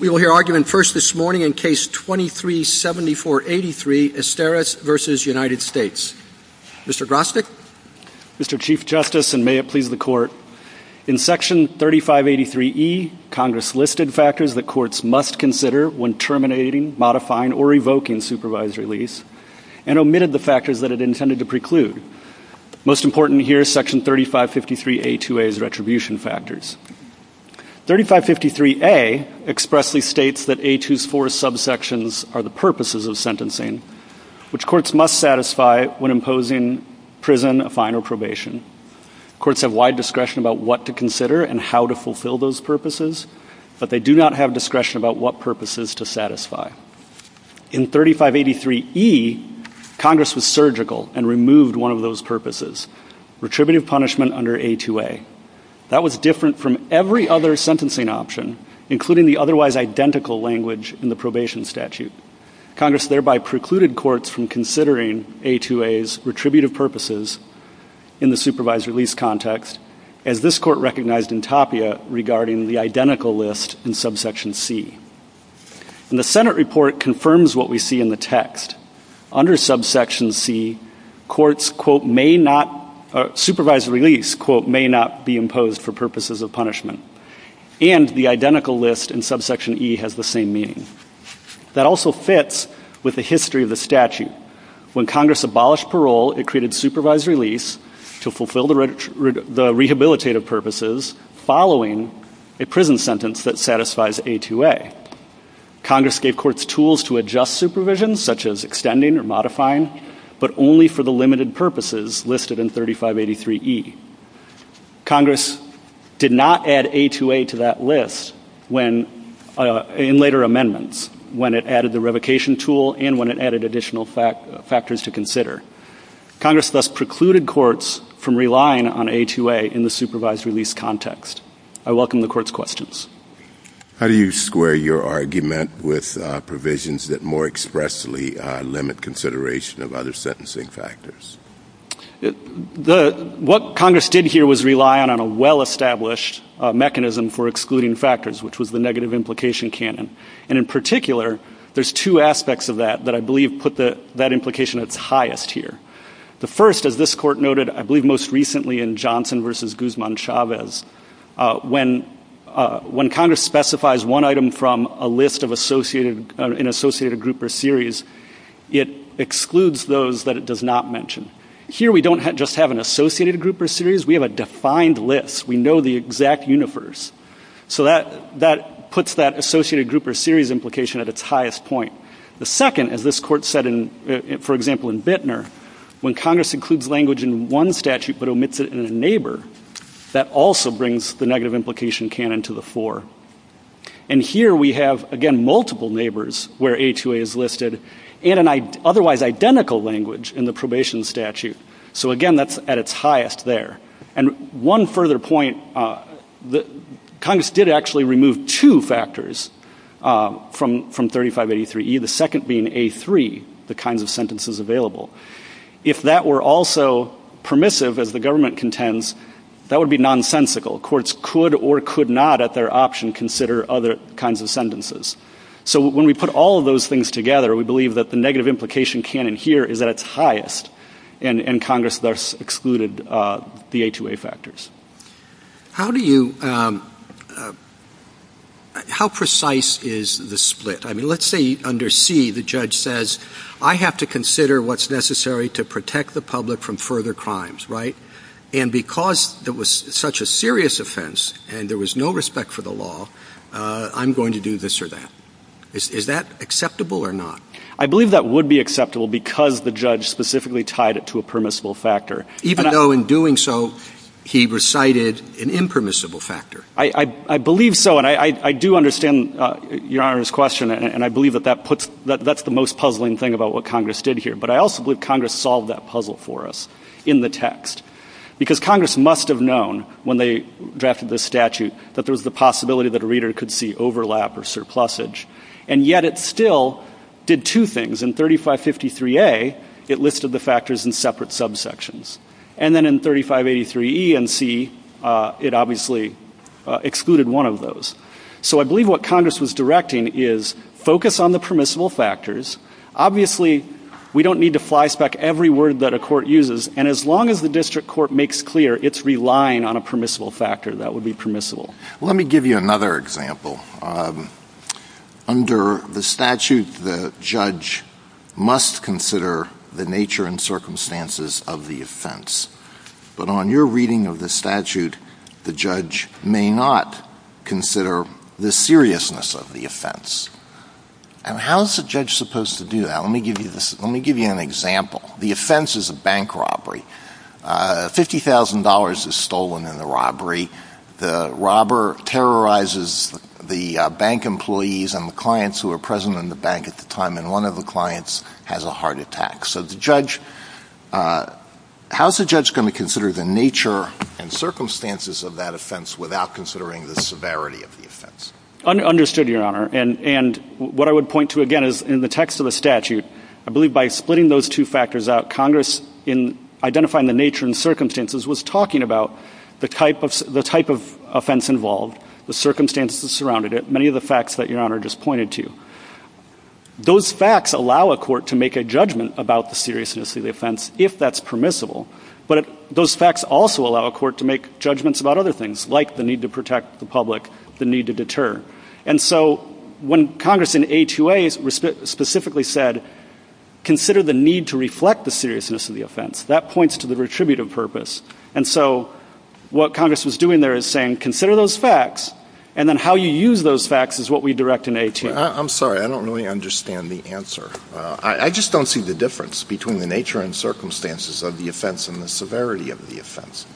We will hear argument first this morning in Case 23-7483, Esteras v. United States. Mr. Grostek? Mr. Chief Justice, and may it please the Court, in Section 3583E, Congress listed factors the courts must consider when terminating, modifying, or revoking supervised release and omitted the factors that it intended to preclude. Most important here is Section 3553A2A's retribution factors. 3553A expressly states that A2's four subsections are the purposes of sentencing, which courts must satisfy when imposing prison, a fine, or probation. Courts have wide discretion about what to consider and how to fulfill those purposes, but they do not have discretion about what purposes to satisfy. In 3583E, Congress was surgical and removed one of those purposes, retributive punishment under A2A. That was different from every other sentencing option, including the otherwise identical language in the probation statute. Congress thereby precluded courts from considering A2A's retributive purposes in the supervised release context, as this Court recognized in Tapia regarding the identical list in Subsection C. The Senate report confirms what we see in the text. Under Subsection C, courts, quote, may not, supervised release, quote, may not be imposed for purposes of punishment. And the identical list in Subsection E has the same meaning. That also fits with the history of the statute. When Congress abolished parole, it created supervised release to fulfill the rehabilitative purposes following a prison sentence that satisfies A2A. Congress gave courts tools to adjust supervision, such as extending or modifying, but only for the limited purposes listed in 3583E. Congress did not add A2A to that list in later amendments when it added the revocation tool and when it added additional factors to consider. Congress thus precluded courts from relying on A2A in the supervised release context. I welcome the Court's questions. How do you square your argument with provisions that more expressly limit consideration of other sentencing factors? What Congress did here was rely on a well-established mechanism for excluding factors, which was the negative implication canon. And in particular, there's two aspects of that that I believe put that implication at the highest here. The first, as this Court noted, I believe most recently in Johnson v. Guzman-Chavez, when Congress specifies one item from a list of an associated group or series, it excludes those that it does not mention. Here, we don't just have an associated group or series. We have a defined list. We know the exact unifers. So that puts that associated group or series implication at its highest point. The second, as this Court said, for example, in Bittner, when Congress includes language in one statute but omits it in a neighbor, that also brings the negative implication canon to the fore. And here, we have, again, multiple neighbors where A2A is listed in an otherwise identical language in the probation statute. So again, that's at its highest there. And one further point, Congress did actually remove two factors from 3583E, the second being A3, the kinds of sentences available. If that were also permissive, as the government contends, that would be nonsensical. Courts could or could not at their option consider other kinds of sentences. So when we put all of those things together, we believe that the negative implication canon here is at its highest, and Congress thus excluded the A2A factors. How do you – how precise is the split? I mean, let's say under C, the judge says, I have to consider what's necessary to protect the public from further crimes, right? And because it was such a serious offense and there was no respect for the law, I'm going to do this or that. Is that acceptable or not? I believe that would be acceptable because the judge specifically tied it to a permissible factor. Even though in doing so, he recited an impermissible factor. I believe so, and I do understand Your Honor's question, and I believe that that puts – that's the most puzzling thing about what Congress did here. But I also believe Congress solved that puzzle for us in the text, because Congress must have known when they drafted the statute that there was the possibility that a reader could see overlap or surplusage. And yet it still did two things. In 3553A, it listed the factors in separate subsections. And then in 3583E and C, it obviously excluded one of those. So I believe what Congress was directing is focus on the permissible factors. Obviously, we don't need to flyspeck every word that a court uses, and as long as the district court makes clear it's relying on a permissible factor, that would be permissible. Let me give you another example. Under the statute, the judge must consider the nature and circumstances of the offense. But on your reading of the statute, the judge may not consider the seriousness of the offense. And how is a judge supposed to do that? Let me give you an example. The offense is a bank robbery. $50,000 is stolen in the robbery. The robber terrorizes the bank employees and the clients who were present in the bank at the time, and one of the clients has a heart attack. So how is a judge going to consider the nature and circumstances of that offense without considering the severity of the offense? Understood, Your Honor. And what I would point to again is in the text of the statute, I believe by splitting those two factors out, identifying the nature and circumstances was talking about the type of offense involved, the circumstances that surrounded it, many of the facts that Your Honor just pointed to. Those facts allow a court to make a judgment about the seriousness of the offense if that's permissible. But those facts also allow a court to make judgments about other things, like the need to protect the public, the need to deter. And so when Congress in A2A specifically said, consider the need to reflect the seriousness of the offense, that points to the retributive purpose. And so what Congress was doing there is saying, consider those facts, and then how you use those facts is what we direct in A2A. I'm sorry. I don't really understand the answer. I just don't see the difference between the nature and circumstances of the offense and the severity of the offense.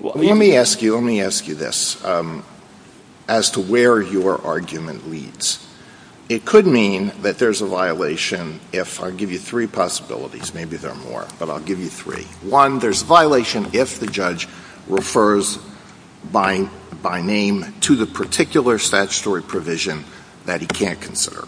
Let me ask you this as to where your argument leads. It could mean that there's a violation if I give you three possibilities. Maybe there are more, but I'll give you three. One, there's a violation if the judge refers by name to the particular statutory provision that he can't consider.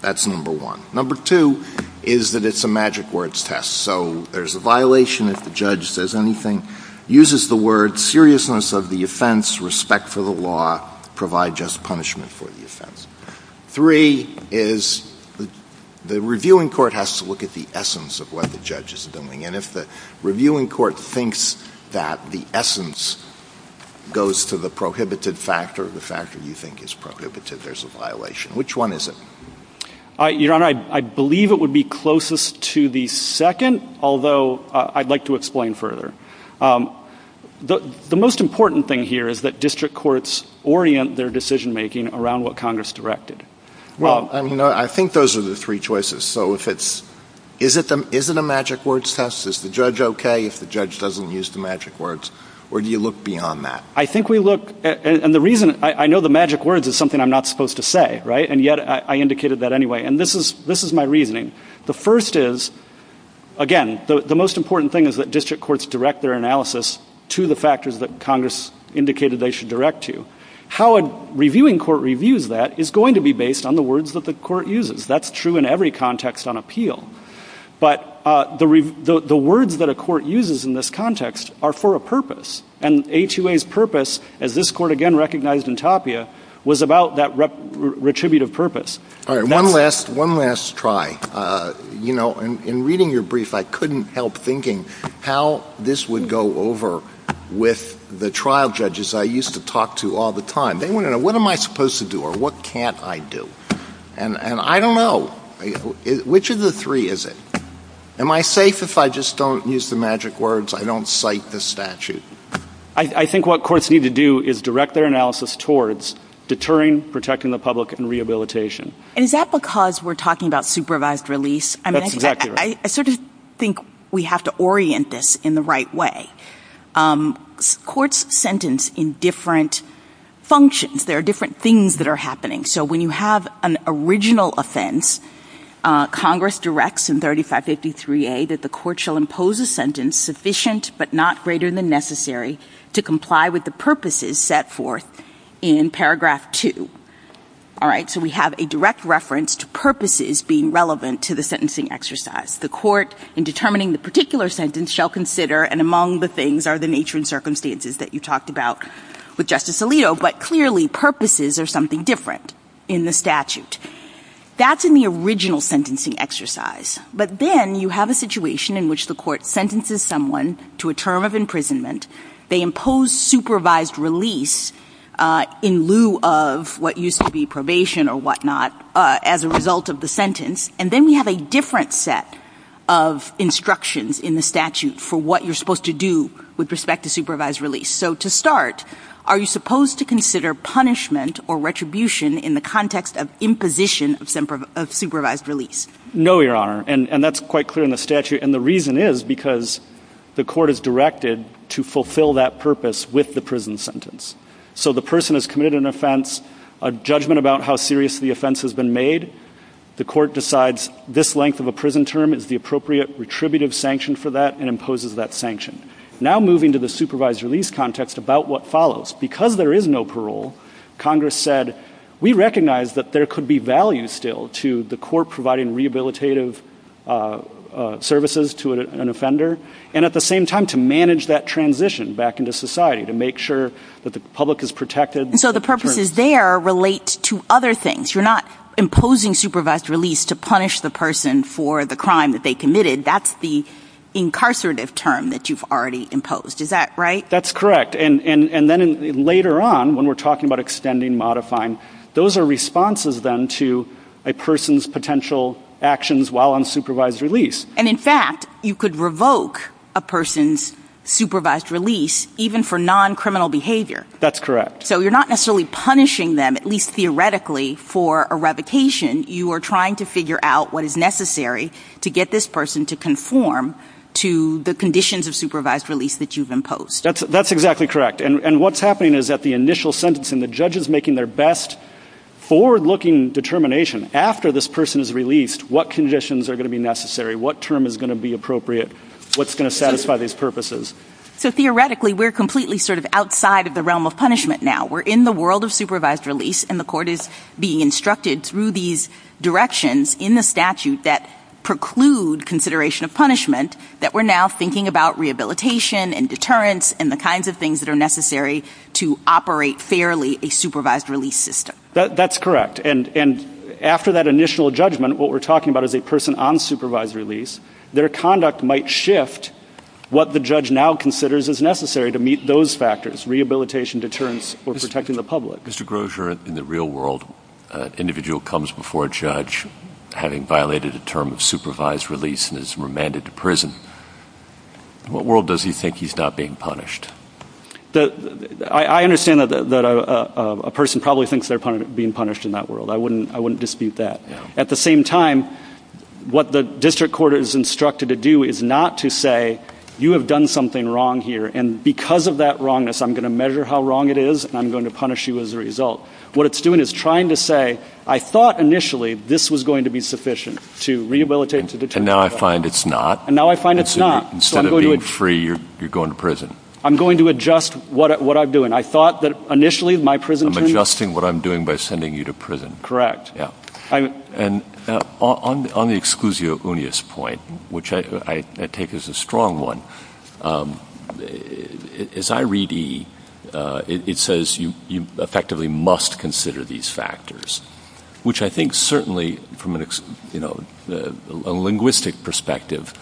That's number one. Number two is that it's a magic words test. So there's a violation if the judge says anything, uses the word seriousness of the offense, respect for the law, provide just punishment for the offense. Three is the reviewing court has to look at the essence of what the judge is doing. And if the reviewing court thinks that the essence goes to the prohibited factor, the factor you think is prohibited, there's a violation. Which one is it? Your Honor, I believe it would be closest to the second, although I'd like to explain further. The most important thing here is that district courts orient their decision-making around what Congress directed. Well, I think those are the three choices. So is it a magic words test? Is the judge okay if the judge doesn't use the magic words? Or do you look beyond that? I think we look, and the reason, I know the magic words is something I'm not supposed to say, right? And yet I indicated that anyway. And this is my reasoning. The first is, again, the most important thing is that district courts direct their analysis to the factors that Congress indicated they should direct to. How a reviewing court reviews that is going to be based on the words that the court uses. That's true in every context on appeal. But the words that a court uses in this context are for a purpose. And HUA's purpose, as this court again recognized in Tapia, was about that retributive purpose. One last try. You know, in reading your brief, I couldn't help thinking how this would go over with the trial judges I used to talk to all the time. They want to know, what am I supposed to do or what can't I do? And I don't know. Which of the three is it? Am I safe if I just don't use the magic words? I don't cite the statute? I think what courts need to do is direct their analysis towards deterring, protecting the public, and rehabilitation. And is that because we're talking about supervised release? That's exactly right. I sort of think we have to orient this in the right way. Courts sentence in different functions. There are different things that are happening. So when you have an original offense, Congress directs in 3553A that the court shall impose a sentence sufficient but not greater than necessary to comply with the purposes set forth in paragraph 2. All right. So we have a direct reference to purposes being relevant to the sentencing exercise. The court in determining the particular sentence shall consider, and among the things are the nature and circumstances that you talked about with Justice Alito. But clearly purposes are something different in the statute. That's in the original sentencing exercise. But then you have a situation in which the court sentences someone to a term of imprisonment. They impose supervised release in lieu of what used to be probation or whatnot as a result of the sentence. And then you have a different set of instructions in the statute for what you're supposed to do with respect to supervised release. So to start, are you supposed to consider punishment or retribution in the context of imposition of supervised release? No, Your Honor. And that's quite clear in the statute. And the reason is because the court is directed to fulfill that purpose with the prison sentence. So the person has committed an offense, a judgment about how serious the offense has been made. The court decides this length of a prison term is the appropriate retributive sanction for that and imposes that sanction. Now moving to the supervised release context about what follows. Because there is no parole, Congress said we recognize that there could be value still to the court providing rehabilitative services to an offender and at the same time to manage that transition back into society to make sure that the public is protected. So the purposes there relate to other things. You're not imposing supervised release to punish the person for the crime that they committed. That's the incarcerative term that you've already imposed. Is that right? That's correct. And then later on when we're talking about extending, modifying, those are responses then to a person's potential actions while on supervised release. And in fact, you could revoke a person's supervised release even for non-criminal behavior. That's correct. So you're not necessarily punishing them, at least theoretically, for a revocation. You are trying to figure out what is necessary to get this person to conform to the conditions of supervised release that you've imposed. That's exactly correct. And what's happening is that the initial sentencing, the judge is making their best forward-looking determination. After this person is released, what conditions are going to be necessary? What term is going to be appropriate? What's going to satisfy these purposes? So theoretically, we're completely sort of outside of the realm of punishment now. We're in the world of supervised release, and the court is being instructed through these directions in the statute that preclude consideration of punishment, that we're now thinking about rehabilitation and deterrence and the kinds of things that are necessary to operate fairly a supervised release system. That's correct. And after that initial judgment, what we're talking about is a person on supervised release. Their conduct might shift what the judge now considers is necessary to meet those factors, rehabilitation, deterrence, or protecting the public. Mr. Grosz, you're in the real world. An individual comes before a judge having violated a term of supervised release and is remanded to prison. What world does he think he's not being punished? I understand that a person probably thinks they're being punished in that world. I wouldn't dispute that. At the same time, what the district court is instructed to do is not to say, you have done something wrong here, and because of that wrongness, I'm going to measure how wrong it is, and I'm going to punish you as a result. What it's doing is trying to say, I thought initially this was going to be sufficient to rehabilitate, to deter. And now I find it's not? And now I find it's not. Instead of being free, you're going to prison. I'm going to adjust what I'm doing. I thought that initially my prison sentence— I'm adjusting what I'm doing by sending you to prison. Correct. And on the exclusio unius point, which I take as a strong one, as I read E, it says you effectively must consider these factors, which I think certainly from a linguistic perspective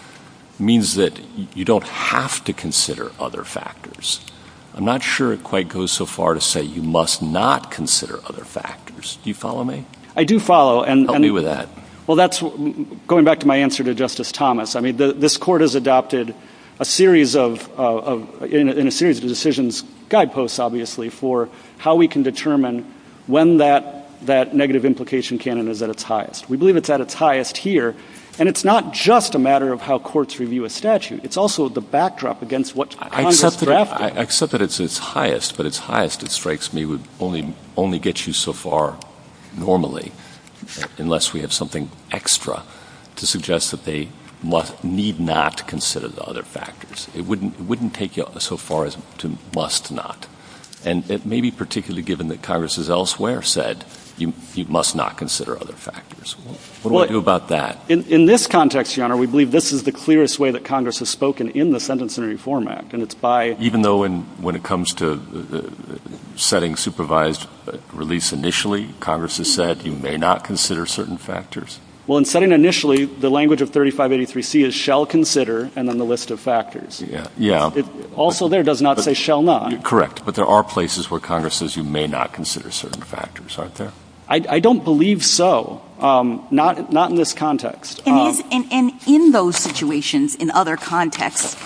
means that you don't have to consider other factors. I'm not sure it quite goes so far to say you must not consider other factors. Do you follow me? I do follow. Help me with that. Well, that's going back to my answer to Justice Thomas. I mean, this Court has adopted a series of decisions, guideposts, obviously, for how we can determine when that negative implication canon is at its highest. We believe it's at its highest here, and it's not just a matter of how courts review a statute. It's also the backdrop against what Congress drafted. I accept that it's its highest, but its highest, it strikes me, would only get you so far normally unless we had something extra to suggest that they need not consider the other factors. It wouldn't take you so far as to must not. And it may be particularly given that Congress has elsewhere said you must not consider other factors. What do I do about that? In this context, Your Honor, we believe this is the clearest way that Congress has spoken in the Sentencing Reform Act, and it's by— Even though when it comes to setting supervised release initially, Congress has said you may not consider certain factors? Well, in setting initially, the language of 3583C is shall consider, and then the list of factors. Yeah. Also there, it does not say shall not. Correct, but there are places where Congress says you may not consider certain factors, aren't there? I don't believe so. Not in this context. And in those situations, in other contexts,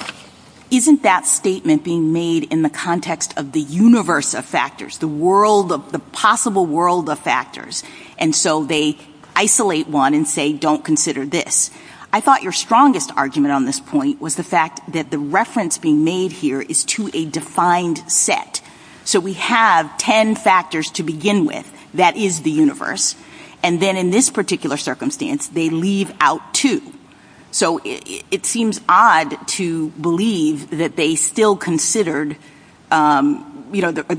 isn't that statement being made in the context of the universe of factors, the world of—the possible world of factors? And so they isolate one and say don't consider this. I thought your strongest argument on this point was the fact that the reference being made here is to a defined set. So we have 10 factors to begin with. That is the universe. And then in this particular circumstance, they leave out two. So it seems odd to believe that they still considered—they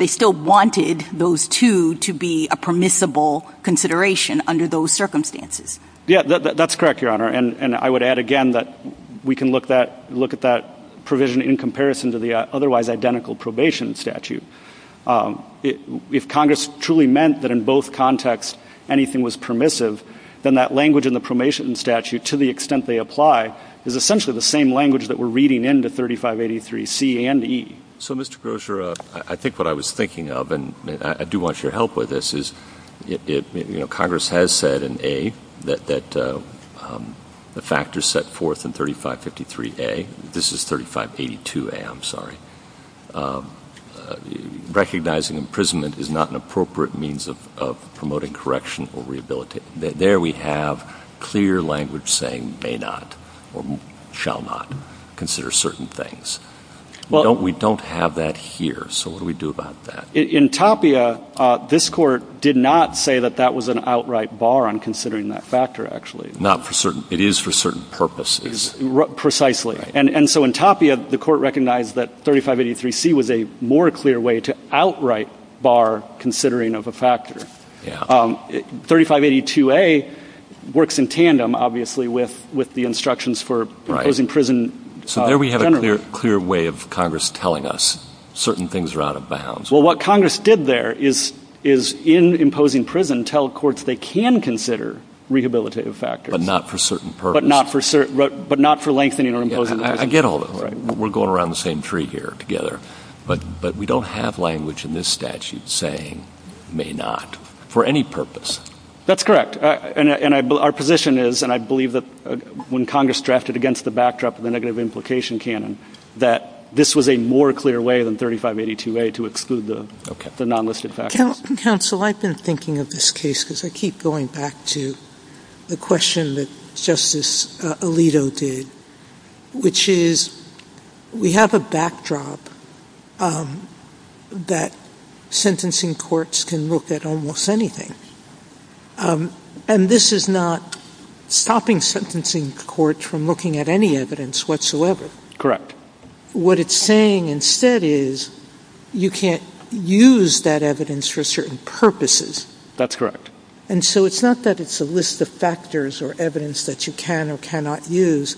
still wanted those two to be a permissible consideration under those circumstances. Yeah, that's correct, Your Honor, and I would add again that we can look at that provision in comparison to the otherwise identical probation statute. If Congress truly meant that in both contexts anything was permissive, then that language in the probation statute, to the extent they apply, is essentially the same language that we're reading into 3583C and E. So, Mr. Grosser, I think what I was thinking of, and I do want your help with this, is Congress has said in A that the factors set forth in 3553A—this is 3582A, I'm sorry— recognizing imprisonment is not an appropriate means of promoting correction or rehabilitation. There we have clear language saying may not or shall not consider certain things. We don't have that here, so what do we do about that? In Tapia, this Court did not say that that was an outright bar on considering that factor, actually. Not for certain—it is for certain purposes. Precisely. And so in Tapia, the Court recognized that 3583C was a more clear way to outright bar considering of a factor. 3582A works in tandem, obviously, with the instructions for imposing prison— So there we have a clear way of Congress telling us certain things are out of bounds. Well, what Congress did there is, in imposing prison, tell courts they can consider rehabilitative factors. But not for certain purposes. But not for lengthening or imposing— I get all that. We're going around the same tree here together. But we don't have language in this statute saying may not for any purpose. That's correct. And our position is, and I believe that when Congress drafted against the backdrop of the negative implication canon, that this was a more clear way than 3582A to exclude the nonlisted factors. Counsel, I've been thinking of this case, because I keep going back to the question that Justice Alito did, which is we have a backdrop that sentencing courts can look at almost anything. And this is not stopping sentencing courts from looking at any evidence whatsoever. What it's saying instead is you can't use that evidence for certain purposes. That's correct. And so it's not that it's a list of factors or evidence that you can or cannot use.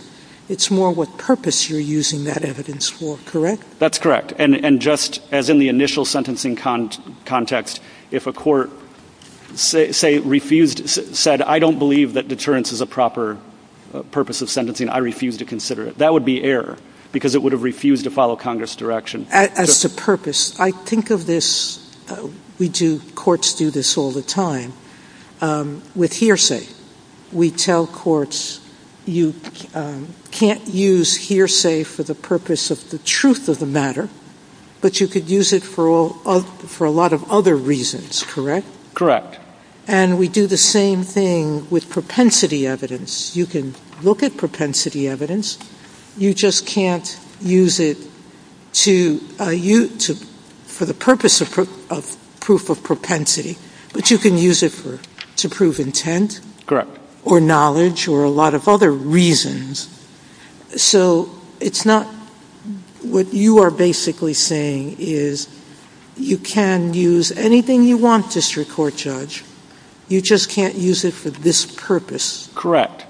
It's more what purpose you're using that evidence for. Correct? That's correct. And just as in the initial sentencing context, if a court, say, refused—said, I don't believe that deterrence is a proper purpose of sentencing, I refuse to consider it. That would be error, because it would have refused to follow Congress' direction. As to purpose, I think of this—courts do this all the time—with hearsay. We tell courts you can't use hearsay for the purpose of the truth of the matter, but you could use it for a lot of other reasons, correct? Correct. And we do the same thing with propensity evidence. You can look at propensity evidence. You just can't use it for the purpose of proof of propensity, but you can use it to prove intent or knowledge or a lot of other reasons. So it's not—what you are basically saying is you can use anything you want, District Court Judge. You just can't use it for this purpose. Correct.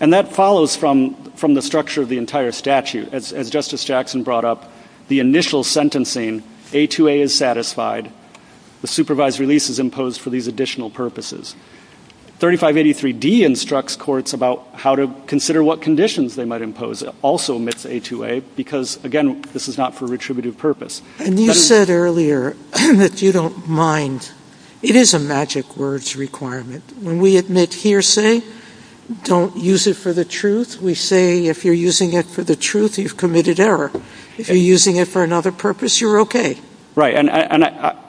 And that follows from the structure of the entire statute. As Justice Jackson brought up, the initial sentencing, A2A is satisfied. The supervised release is imposed for these additional purposes. 3583D instructs courts about how to consider what conditions they might impose also amidst A2A, because, again, this is not for retributive purpose. And you said earlier that you don't mind. It is a magic words requirement. When we admit hearsay, don't use it for the truth. We say if you're using it for the truth, you've committed error. If you're using it for another purpose, you're okay. Right. And,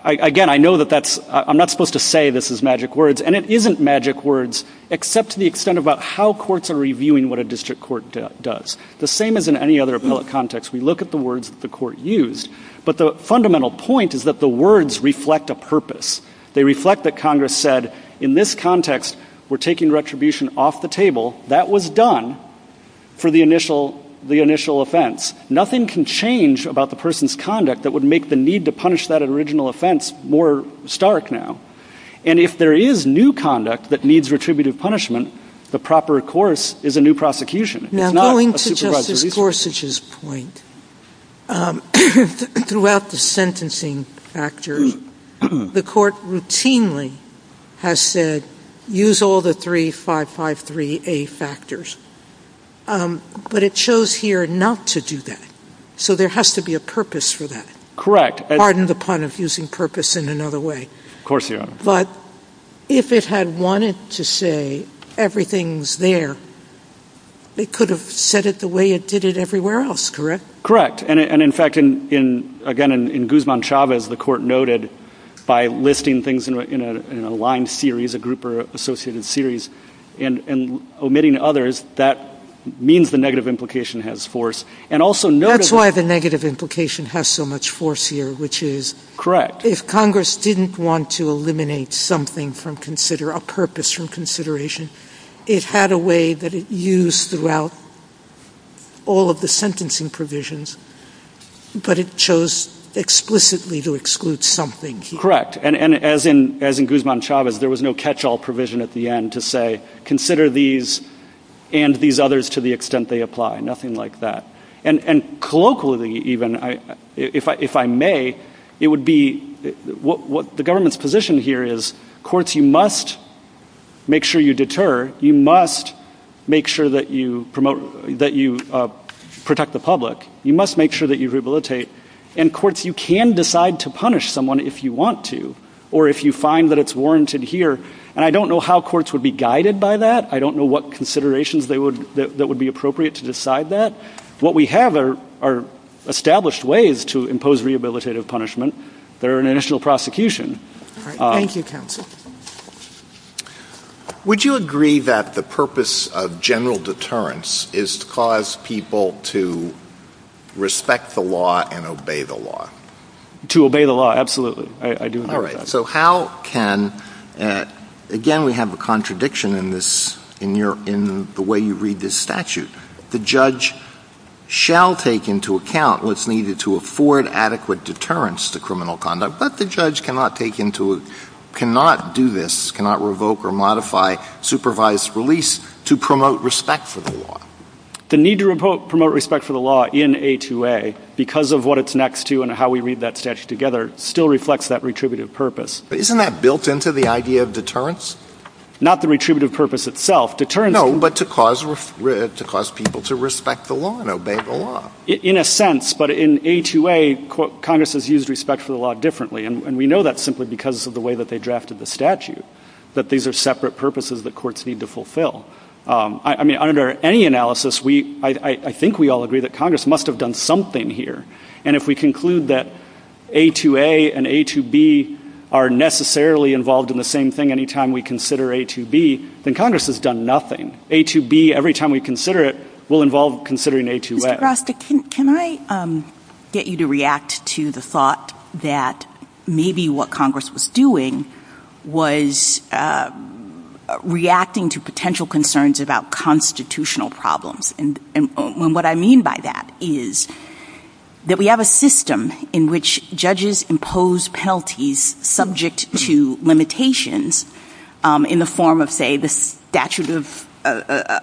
again, I know that that's—I'm not supposed to say this is magic words, and it isn't magic words except to the extent about how courts are reviewing what a district court does. The same as in any other appellate context, we look at the words the court used, but the fundamental point is that the words reflect a purpose. They reflect that Congress said in this context we're taking retribution off the table. That was done for the initial offense. Nothing can change about the person's conduct that would make the need to punish that original offense more stark now. And if there is new conduct that needs retributive punishment, the proper course is a new prosecution. It's not a supervised release. This is Gorsuch's point. Throughout the sentencing factors, the court routinely has said use all the three 553A factors. But it shows here not to do that. So there has to be a purpose for that. Correct. Pardon the pun of using purpose in another way. Of course, Your Honor. But if it had wanted to say everything's there, it could have said it the way it did it everywhere else, correct? And, in fact, again, in Guzman-Chavez, the court noted by listing things in a line series, a group or associated series, and omitting others, that means the negative implication has force. That's why the negative implication has so much force here, which is if Congress didn't want to eliminate a purpose from consideration, it had a way that it used throughout all of the sentencing provisions, but it chose explicitly to exclude something. Correct. And as in Guzman-Chavez, there was no catch-all provision at the end to say, consider these and these others to the extent they apply. Nothing like that. And colloquially, even, if I may, it would be what the government's position here is courts, you must make sure you deter. You must make sure that you protect the public. You must make sure that you rehabilitate. And courts, you can decide to punish someone if you want to or if you find that it's warranted here. And I don't know how courts would be guided by that. I don't know what considerations that would be appropriate to decide that. What we have are established ways to impose rehabilitative punishment. They're an initial prosecution. Thank you, counsel. Would you agree that the purpose of general deterrence is to cause people to respect the law and obey the law? To obey the law, absolutely. All right, so how can, again, we have a contradiction in the way you read this statute. The judge shall take into account what's needed to afford adequate deterrence to criminal conduct, but the judge cannot do this, cannot revoke or modify supervised release to promote respect for the law. The need to promote respect for the law in A2A, because of what it's next to and how we read that statute together, still reflects that retributive purpose. But isn't that built into the idea of deterrence? Not the retributive purpose itself. No, but to cause people to respect the law and obey the law. In a sense, but in A2A, Congress has used respect for the law differently, and we know that simply because of the way that they drafted the statute, that these are separate purposes that courts need to fulfill. I mean, under any analysis, I think we all agree that Congress must have done something here. And if we conclude that A2A and A2B are necessarily involved in the same thing anytime we consider A2B, then Congress has done nothing. A2B, every time we consider it, will involve considering A2S. Can I get you to react to the thought that maybe what Congress was doing was reacting to potential concerns about constitutional problems? And what I mean by that is that we have a system in which judges impose penalties subject to limitations in the form of, say, the statute of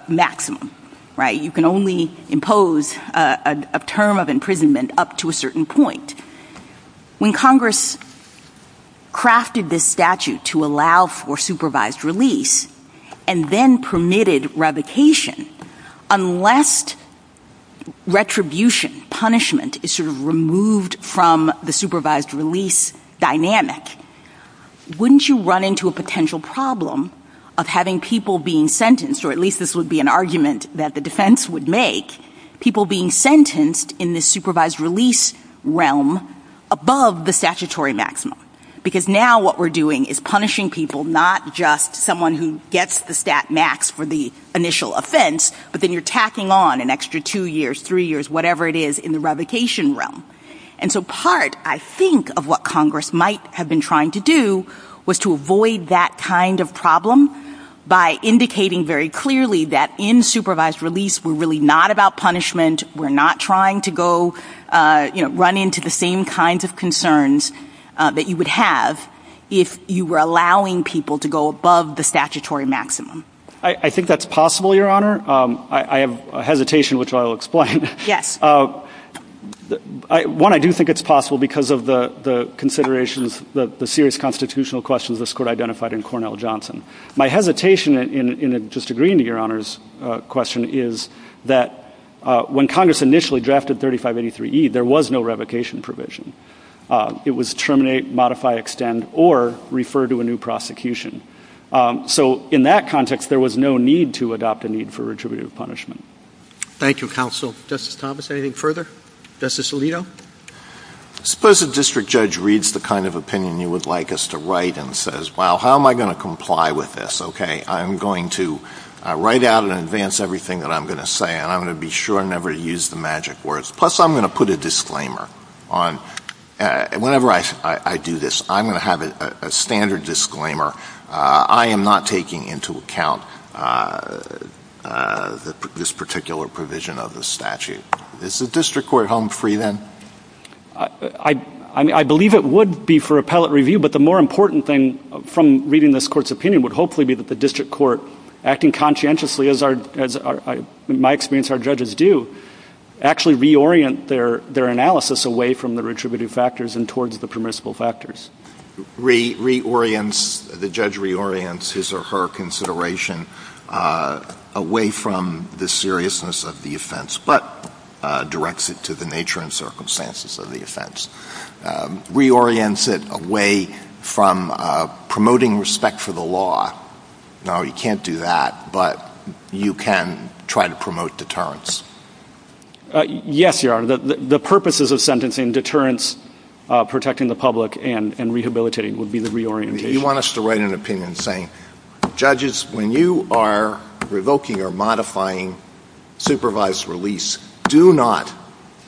maximums, right? You can only impose a term of imprisonment up to a certain point. When Congress crafted this statute to allow for supervised release and then permitted revocation, unless retribution, punishment, is sort of removed from the supervised release dynamic, wouldn't you run into a potential problem of having people being sentenced, or at least this would be an argument that the defense would make, people being sentenced in the supervised release realm above the statutory maximum? Because now what we're doing is punishing people, not just someone who gets the stat max for the initial offense, but then you're tacking on an extra two years, three years, whatever it is, in the revocation realm. And so part, I think, of what Congress might have been trying to do was to avoid that kind of problem by indicating very clearly that in supervised release we're really not about punishment, we're not trying to go, you know, run into the same kinds of concerns that you would have if you were allowing people to go above the statutory maximum. I think that's possible, Your Honor. I have a hesitation, which I'll explain. Yes. One, I do think it's possible because of the considerations, the serious constitutional questions this Court identified in Cornell-Johnson. My hesitation in disagreeing to Your Honor's question is that when Congress initially drafted 3583E, there was no revocation provision. It was terminate, modify, extend, or refer to a new prosecution. So in that context, there was no need to adopt a need for retributive punishment. Thank you, Counsel. Justice Thomas, anything further? Justice Alito? Suppose a district judge reads the kind of opinion you would like us to write and says, well, how am I going to comply with this? Okay, I'm going to write out in advance everything that I'm going to say, and I'm going to be sure never to use the magic words. Plus, I'm going to put a disclaimer on. Whenever I do this, I'm going to have a standard disclaimer. I am not taking into account this particular provision of the statute. Is the district court home free then? I believe it would be for appellate review, but the more important thing from reading this Court's opinion would hopefully be that the district court, acting conscientiously, as in my experience our judges do, actually reorient their analysis away from the retributive factors and towards the permissible factors. Reorients, the judge reorients his or her consideration away from the seriousness of the offense. But directs it to the nature and circumstances of the offense. Reorients it away from promoting respect for the law. No, you can't do that, but you can try to promote deterrence. Yes, Your Honor. The purposes of sentencing, deterrence, protecting the public, and rehabilitating would be the reorientation. You want us to write an opinion saying, judges, when you are revoking or modifying supervised release, do not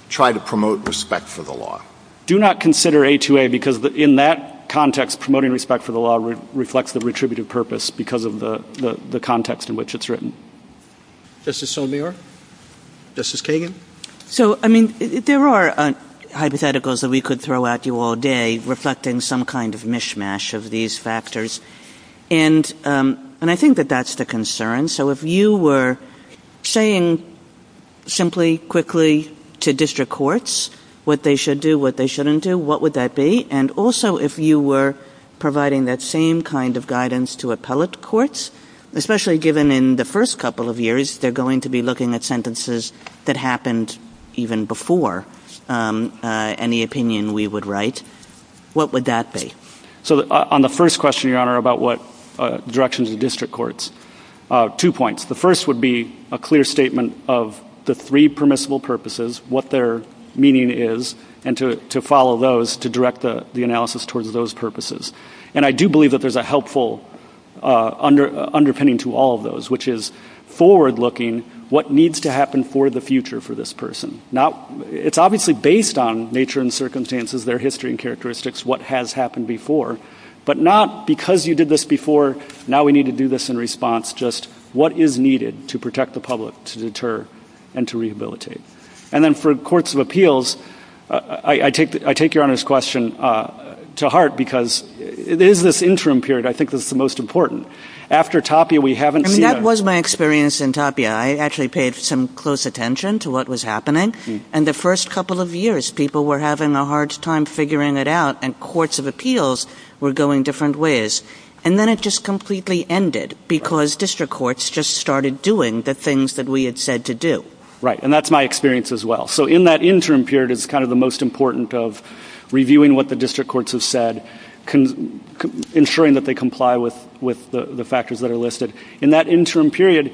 try to promote respect for the law. Do not consider A2A because in that context, promoting respect for the law reflects the retributive purpose because of the context in which it's written. Justice Sotomayor? Justice Kagan? So, I mean, there are hypotheticals that we could throw at you all day reflecting some kind of mishmash of these factors. And I think that that's the concern. So if you were saying simply, quickly, to district courts what they should do, what they shouldn't do, what would that be? And also if you were providing that same kind of guidance to appellate courts, especially given in the first couple of years they're going to be looking at sentences that happened even before any opinion we would write, what would that be? So on the first question, Your Honor, about what directions of district courts, two points. The first would be a clear statement of the three permissible purposes, what their meaning is, and to follow those to direct the analysis towards those purposes. And I do believe that there's a helpful underpinning to all of those, which is forward-looking what needs to happen for the future for this person. Now, it's obviously based on nature and circumstances, their history and characteristics, what has happened before, but not because you did this before, now we need to do this in response, just what is needed to protect the public, to deter, and to rehabilitate. And then for courts of appeals, I take Your Honor's question to heart, because it is this interim period I think that's the most important. After Tapia, we haven't seen... And that was my experience in Tapia. I actually paid some close attention to what was happening, and the first couple of years people were having a hard time figuring it out, and courts of appeals were going different ways. And then it just completely ended because district courts just started doing the things that we had said to do. Right, and that's my experience as well. So in that interim period is kind of the most important of reviewing what the district courts have said, ensuring that they comply with the factors that are listed. In that interim period,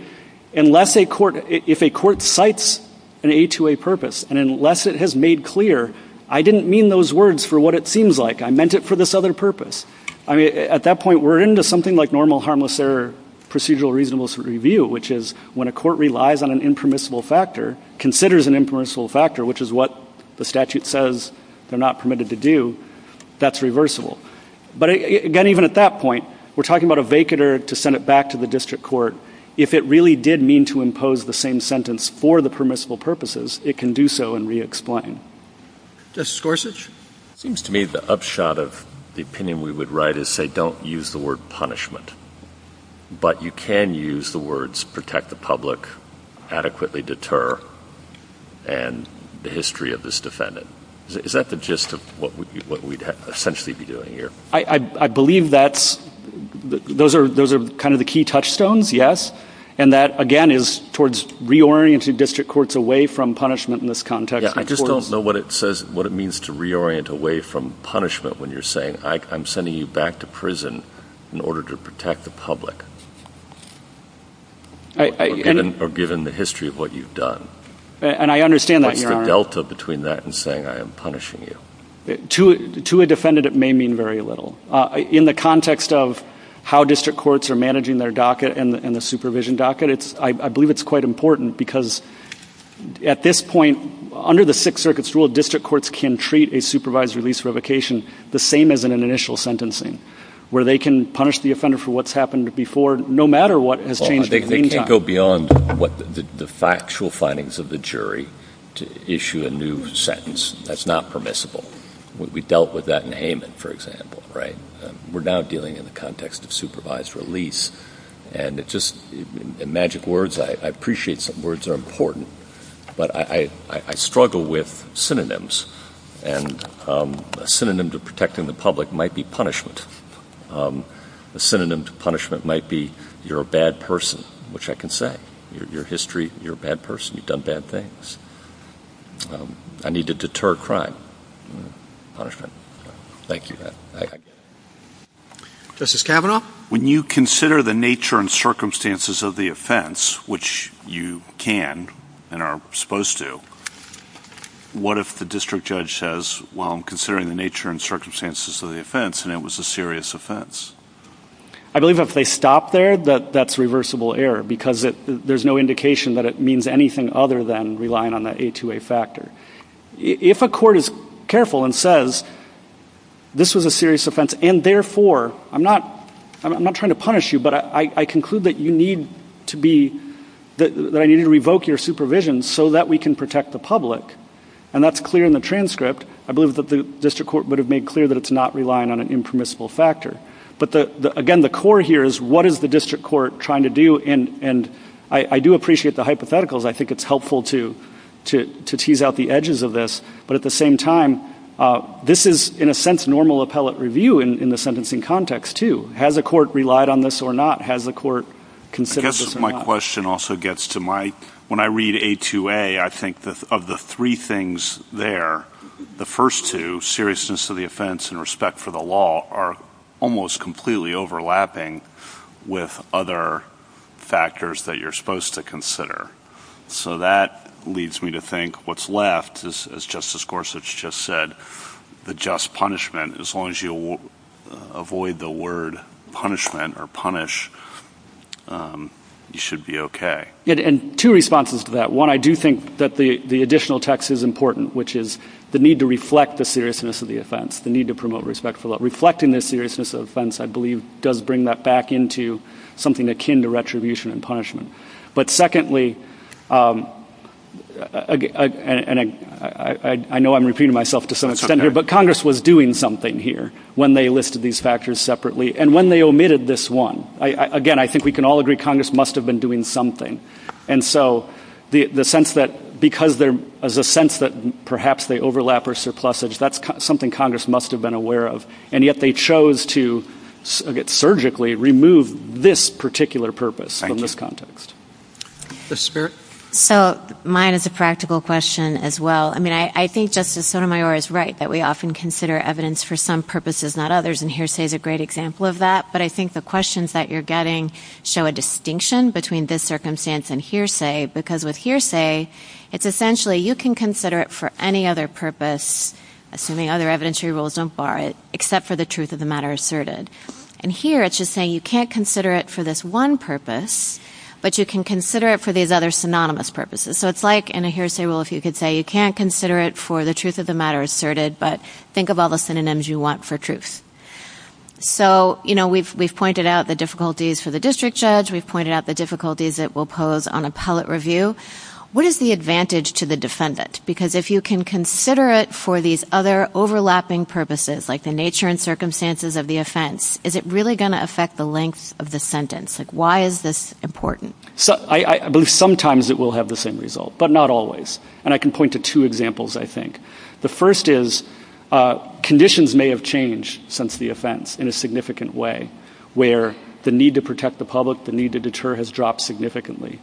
if a court cites an A2A purpose, and unless it has made clear, I didn't mean those words for what it seems like, I meant it for this other purpose. At that point, we're into something like normal harmless error procedural reasonableness review, which is when a court relies on an impermissible factor, considers an impermissible factor, which is what the statute says they're not permitted to do, that's reversible. But again, even at that point, we're talking about a vacater to send it back to the district court. If it really did mean to impose the same sentence for the permissible purposes, it can do so and re-explain. Justice Gorsuch? It seems to me the upshot of the opinion we would write is say don't use the word punishment, but you can use the words protect the public, adequately deter, and the history of this defendant. Is that the gist of what we'd essentially be doing here? I believe that those are kind of the key touchstones, yes, and that, again, is towards reorienting district courts away from punishment in this context. I just don't know what it means to reorient away from punishment when you're saying I'm sending you back to prison in order to protect the public, or given the history of what you've done. And I understand that, Your Honor. What's the delta between that and saying I am punishing you? To a defendant, it may mean very little. In the context of how district courts are managing their docket and the supervision docket, I believe it's quite important because at this point, under the Sixth Circuit's rule, district courts can treat a supervised release revocation the same as in an initial sentencing where they can punish the offender for what's happened before no matter what has changed in the meantime. They can't go beyond the factual findings of the jury to issue a new sentence. That's not permissible. We dealt with that in Hayman, for example, right? We're now dealing in the context of supervised release, and it's just magic words. I appreciate that words are important, but I struggle with synonyms, and a synonym to protecting the public might be punishment. A synonym to punishment might be you're a bad person, which I can say. Your history, you're a bad person. You've done bad things. I need to deter crime. Punishment. Thank you. Justice Kavanaugh? When you consider the nature and circumstances of the offense, which you can and are supposed to, what if the district judge says, well, I'm considering the nature and circumstances of the offense, and it was a serious offense? I believe if they stop there, that's reversible error, because there's no indication that it means anything other than relying on that A2A factor. If a court is careful and says, this was a serious offense, and therefore I'm not trying to punish you, but I conclude that you need to revoke your supervision so that we can protect the public, and that's clear in the transcript, I believe that the district court would have made clear that it's not relying on an impermissible factor. But, again, the core here is what is the district court trying to do? And I do appreciate the hypotheticals. I think it's helpful to tease out the edges of this. But at the same time, this is, in a sense, normal appellate review in the sentencing context, too. Has the court relied on this or not? Has the court considered this or not? My question also gets to my, when I read A2A, I think of the three things there, the first two, seriousness of the offense and respect for the law, are almost completely overlapping with other factors that you're supposed to consider. So that leads me to think what's left is, as Justice Gorsuch just said, the just punishment. As long as you avoid the word punishment or punish, you should be okay. And two responses to that. One, I do think that the additional text is important, which is the need to reflect the seriousness of the offense, the need to promote respect for the law. Reflecting the seriousness of the offense, I believe, does bring that back into something akin to retribution and punishment. But secondly, and I know I'm repeating myself to some extent here, but Congress was doing something here when they listed these factors separately and when they omitted this one. Again, I think we can all agree Congress must have been doing something. And so the sense that because there is a sense that perhaps they overlap or surplusage, that's something Congress must have been aware of. And yet they chose to surgically remove this particular purpose from this context. Justice Speier? So mine is a practical question as well. I mean, I think Justice Sotomayor is right that we often consider evidence for some purposes, not others. And hearsay is a great example of that. But I think the questions that you're getting show a distinction between this circumstance and hearsay. Because with hearsay, it's essentially you can consider it for any other purpose, assuming other evidentiary rules don't bar it, except for the truth of the matter asserted. And here it's just saying you can't consider it for this one purpose, but you can consider it for these other synonymous purposes. So it's like in a hearsay rule if you could say you can't consider it for the truth of the matter asserted, but think of all the synonyms you want for truth. So, you know, we've pointed out the difficulties for the district judge. We've pointed out the difficulties it will pose on appellate review. What is the advantage to the defendant? Because if you can consider it for these other overlapping purposes, like the nature and circumstances of the offense, is it really going to affect the length of the sentence? Why is this important? I believe sometimes it will have the same result, but not always. And I can point to two examples, I think. The first is conditions may have changed since the offense in a significant way, where the need to protect the public, the need to deter has dropped significantly.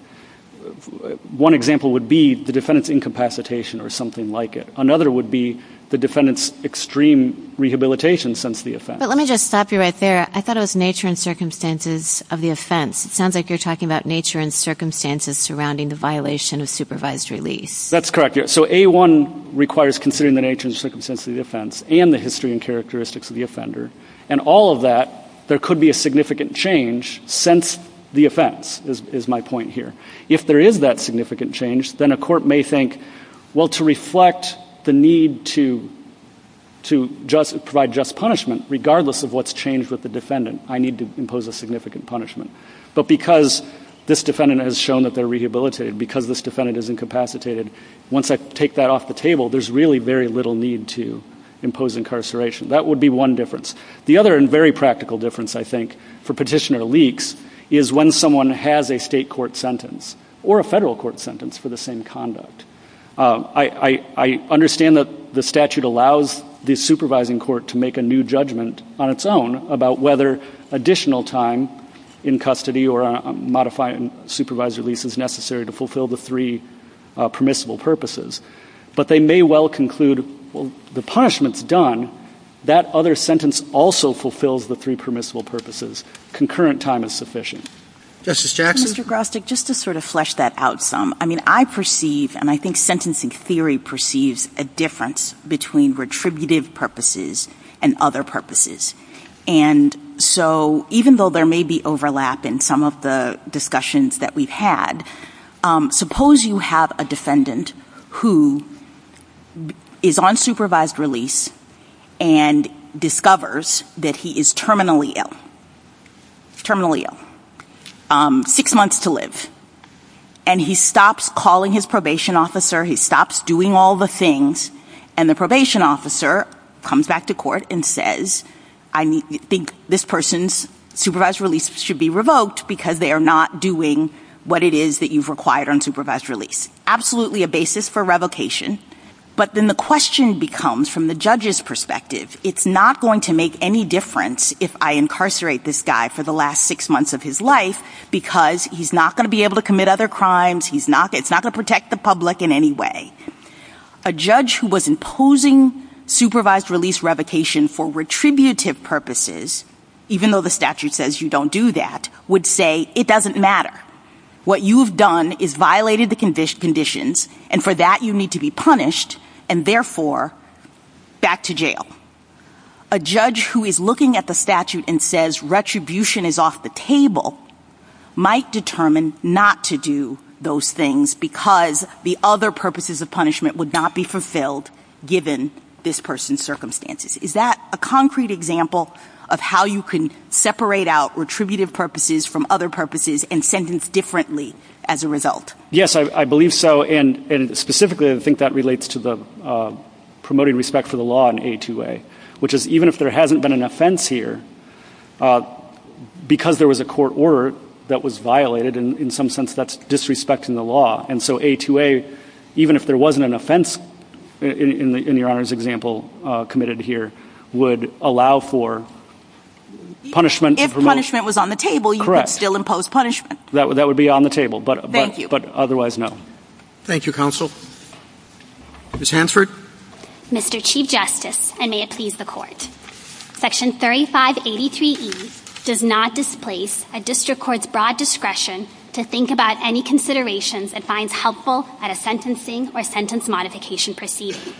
One example would be the defendant's incapacitation or something like it. Another would be the defendant's extreme rehabilitation since the offense. But let me just stop you right there. I thought it was nature and circumstances of the offense. It sounds like you're talking about nature and circumstances surrounding the violation of supervised release. That's correct, yes. So A1 requires considering the nature and circumstances of the offense and the history and characteristics of the offender. And all of that, there could be a significant change since the offense, is my point here. If there is that significant change, then a court may think, well, to reflect the need to provide just punishment, regardless of what's changed with the defendant, I need to impose a significant punishment. But because this defendant has shown that they're rehabilitated, because this defendant is incapacitated, once I take that off the table, there's really very little need to impose incarceration. That would be one difference. The other and very practical difference, I think, for petitioner leaks, is when someone has a state court sentence or a federal court sentence for the same conduct. I understand that the statute allows the supervising court to make a new judgment on its own about whether additional time in custody or a modified supervised release is necessary to fulfill the three permissible purposes. But they may well conclude, well, the punishment's done. That other sentence also fulfills the three permissible purposes. Concurrent time is sufficient. Justice Jackson? Mr. Grostek, just to sort of flesh that out some. I mean, I perceive, and I think sentencing theory perceives, a difference between retributive purposes and other purposes. And so even though there may be overlap in some of the discussions that we've had, suppose you have a defendant who is on supervised release and discovers that he is terminally ill, terminally ill, six months to live. And he stops calling his probation officer, he stops doing all the things, and the probation officer comes back to court and says, I think this person's supervised release should be revoked because they are not doing what it is that you've required on supervised release. Absolutely a basis for revocation. But then the question becomes, from the judge's perspective, it's not going to make any difference if I incarcerate this guy for the last six months of his life because he's not going to be able to commit other crimes. It's not going to protect the public in any way. A judge who was imposing supervised release revocation for retributive purposes, even though the statute says you don't do that, would say it doesn't matter. What you've done is violated the conditions, and for that you need to be punished, and therefore back to jail. A judge who is looking at the statute and says retribution is off the table might determine not to do those things because the other purposes of punishment would not be fulfilled given this person's circumstances. Is that a concrete example of how you can separate out retributive purposes from other purposes and sentence differently as a result? Yes, I believe so, and specifically I think that relates to the promoting respect for the law in A2A, which is even if there hasn't been an offense here, because there was a court order that was violated, in some sense that's disrespecting the law, and so A2A, even if there wasn't an offense in your Honor's example committed here, would allow for punishment. If punishment was on the table, you could still impose punishment. That would be on the table, but otherwise, no. Thank you, Counsel. Ms. Hansford? Mr. Chief Justice, and may it please the Court, Section 3583E does not displace a district court's broad discretion to think about any considerations it finds helpful at a sentencing or sentence modification proceeding.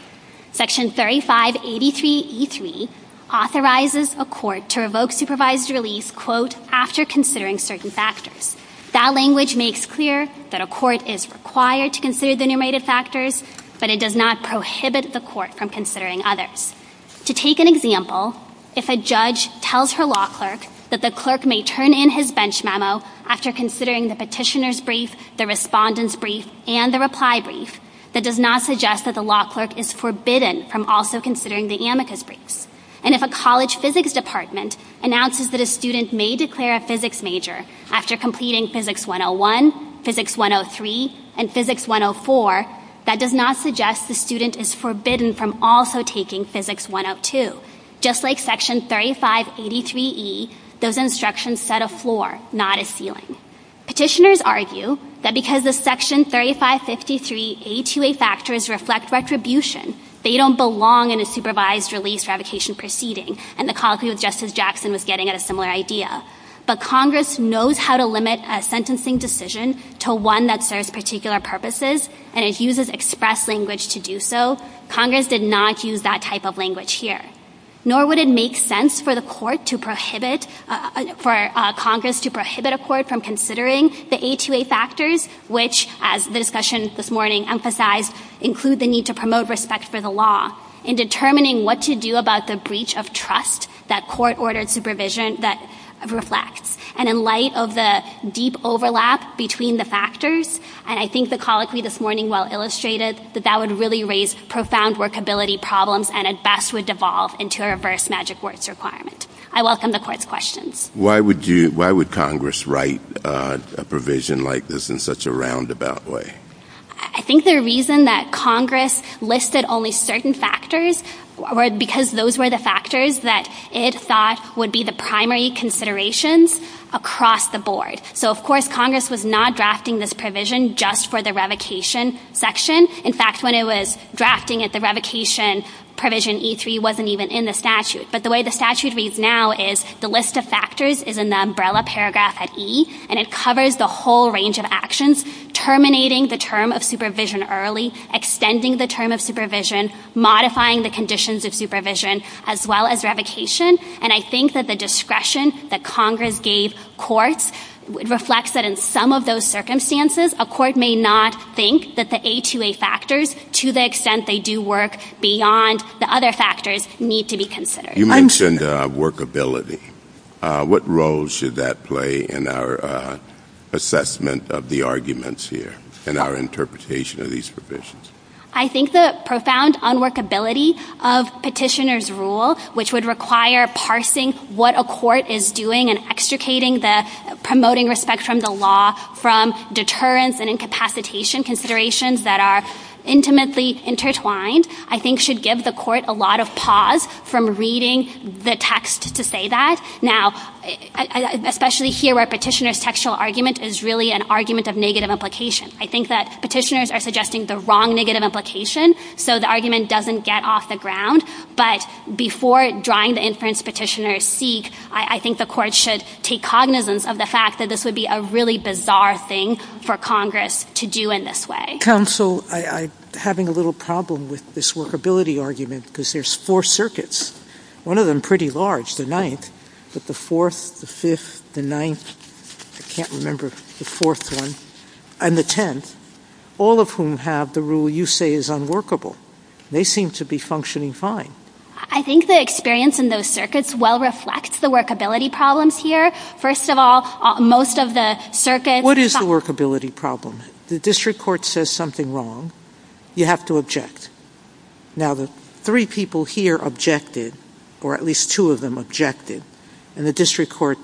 Section 3583E3 authorizes a court to revoke supervised release, quote, after considering certain factors. That language makes clear that a court is required to consider the enumerated factors, but it does not prohibit the court from considering others. To take an example, if a judge tells her law clerk that the clerk may turn in his bench memo after considering the petitioner's brief, the respondent's brief, and the reply brief, that does not suggest that the law clerk is forbidden from also considering the amicus brief. And if a college physics department announces that a student may declare a physics major after completing Physics 101, Physics 103, and Physics 104, that does not suggest the student is forbidden from also taking Physics 102. Just like Section 3583E, those instructions set a floor, not a ceiling. Petitioners argue that because the Section 3553A2A factors reflect retribution, they don't belong in a supervised release revocation proceeding, and the College of Justice Jackson was getting at a similar idea. But Congress knows how to limit a sentencing decision to one that serves particular purposes, and it uses express language to do so. Congress did not use that type of language here. Nor would it make sense for Congress to prohibit a court from considering the A2A factors, which, as the discussion this morning emphasized, include the need to promote respect for the law, in determining what to do about the breach of trust that court-ordered supervision, that reflects. And in light of the deep overlap between the factors, and I think the colloquy this morning well illustrated, that that would really raise profound workability problems, and at best would devolve into a reverse magic words requirement. I welcome the court's questions. Why would Congress write a provision like this in such a roundabout way? I think the reason that Congress listed only certain factors because those were the factors that it thought would be the primary considerations across the board. So, of course, Congress was not drafting this provision just for the revocation section. In fact, when it was drafting it, the revocation provision E3 wasn't even in the statute. But the way the statute reads now is the list of factors is in the umbrella paragraph at E, and it covers the whole range of actions, terminating the term of supervision early, extending the term of supervision, modifying the conditions of supervision, as well as revocation. And I think that the discretion that Congress gave courts reflects that in some of those circumstances, a court may not think that the A2A factors, to the extent they do work beyond the other factors, need to be considered. You mentioned workability. What role should that play in our assessment of the arguments here, in our interpretation of these provisions? I think the profound unworkability of petitioner's rule, which would require parsing what a court is doing and extricating the promoting respect from the law from deterrence and incapacitation considerations that are intimately intertwined, I think should give the court a lot of pause from reading the text to say that. Now, especially here where petitioner's textual argument is really an argument of negative implication. I think that petitioners are suggesting the wrong negative implication, so the argument doesn't get off the ground. But before drawing the inference petitioners seek, I think the court should take cognizance of the fact that this would be a really bizarre thing for Congress to do in this way. I think, counsel, I'm having a little problem with this workability argument because there's four circuits. One of them pretty large, the ninth, but the fourth, the fifth, the ninth, I can't remember the fourth one, and the tenth, all of whom have the rule you say is unworkable. They seem to be functioning fine. I think the experience in those circuits well reflects the workability problems here. First of all, most of the circuits... What is the workability problem? The district court says something wrong. You have to object. Now, the three people here objected, or at least two of them objected, and the district court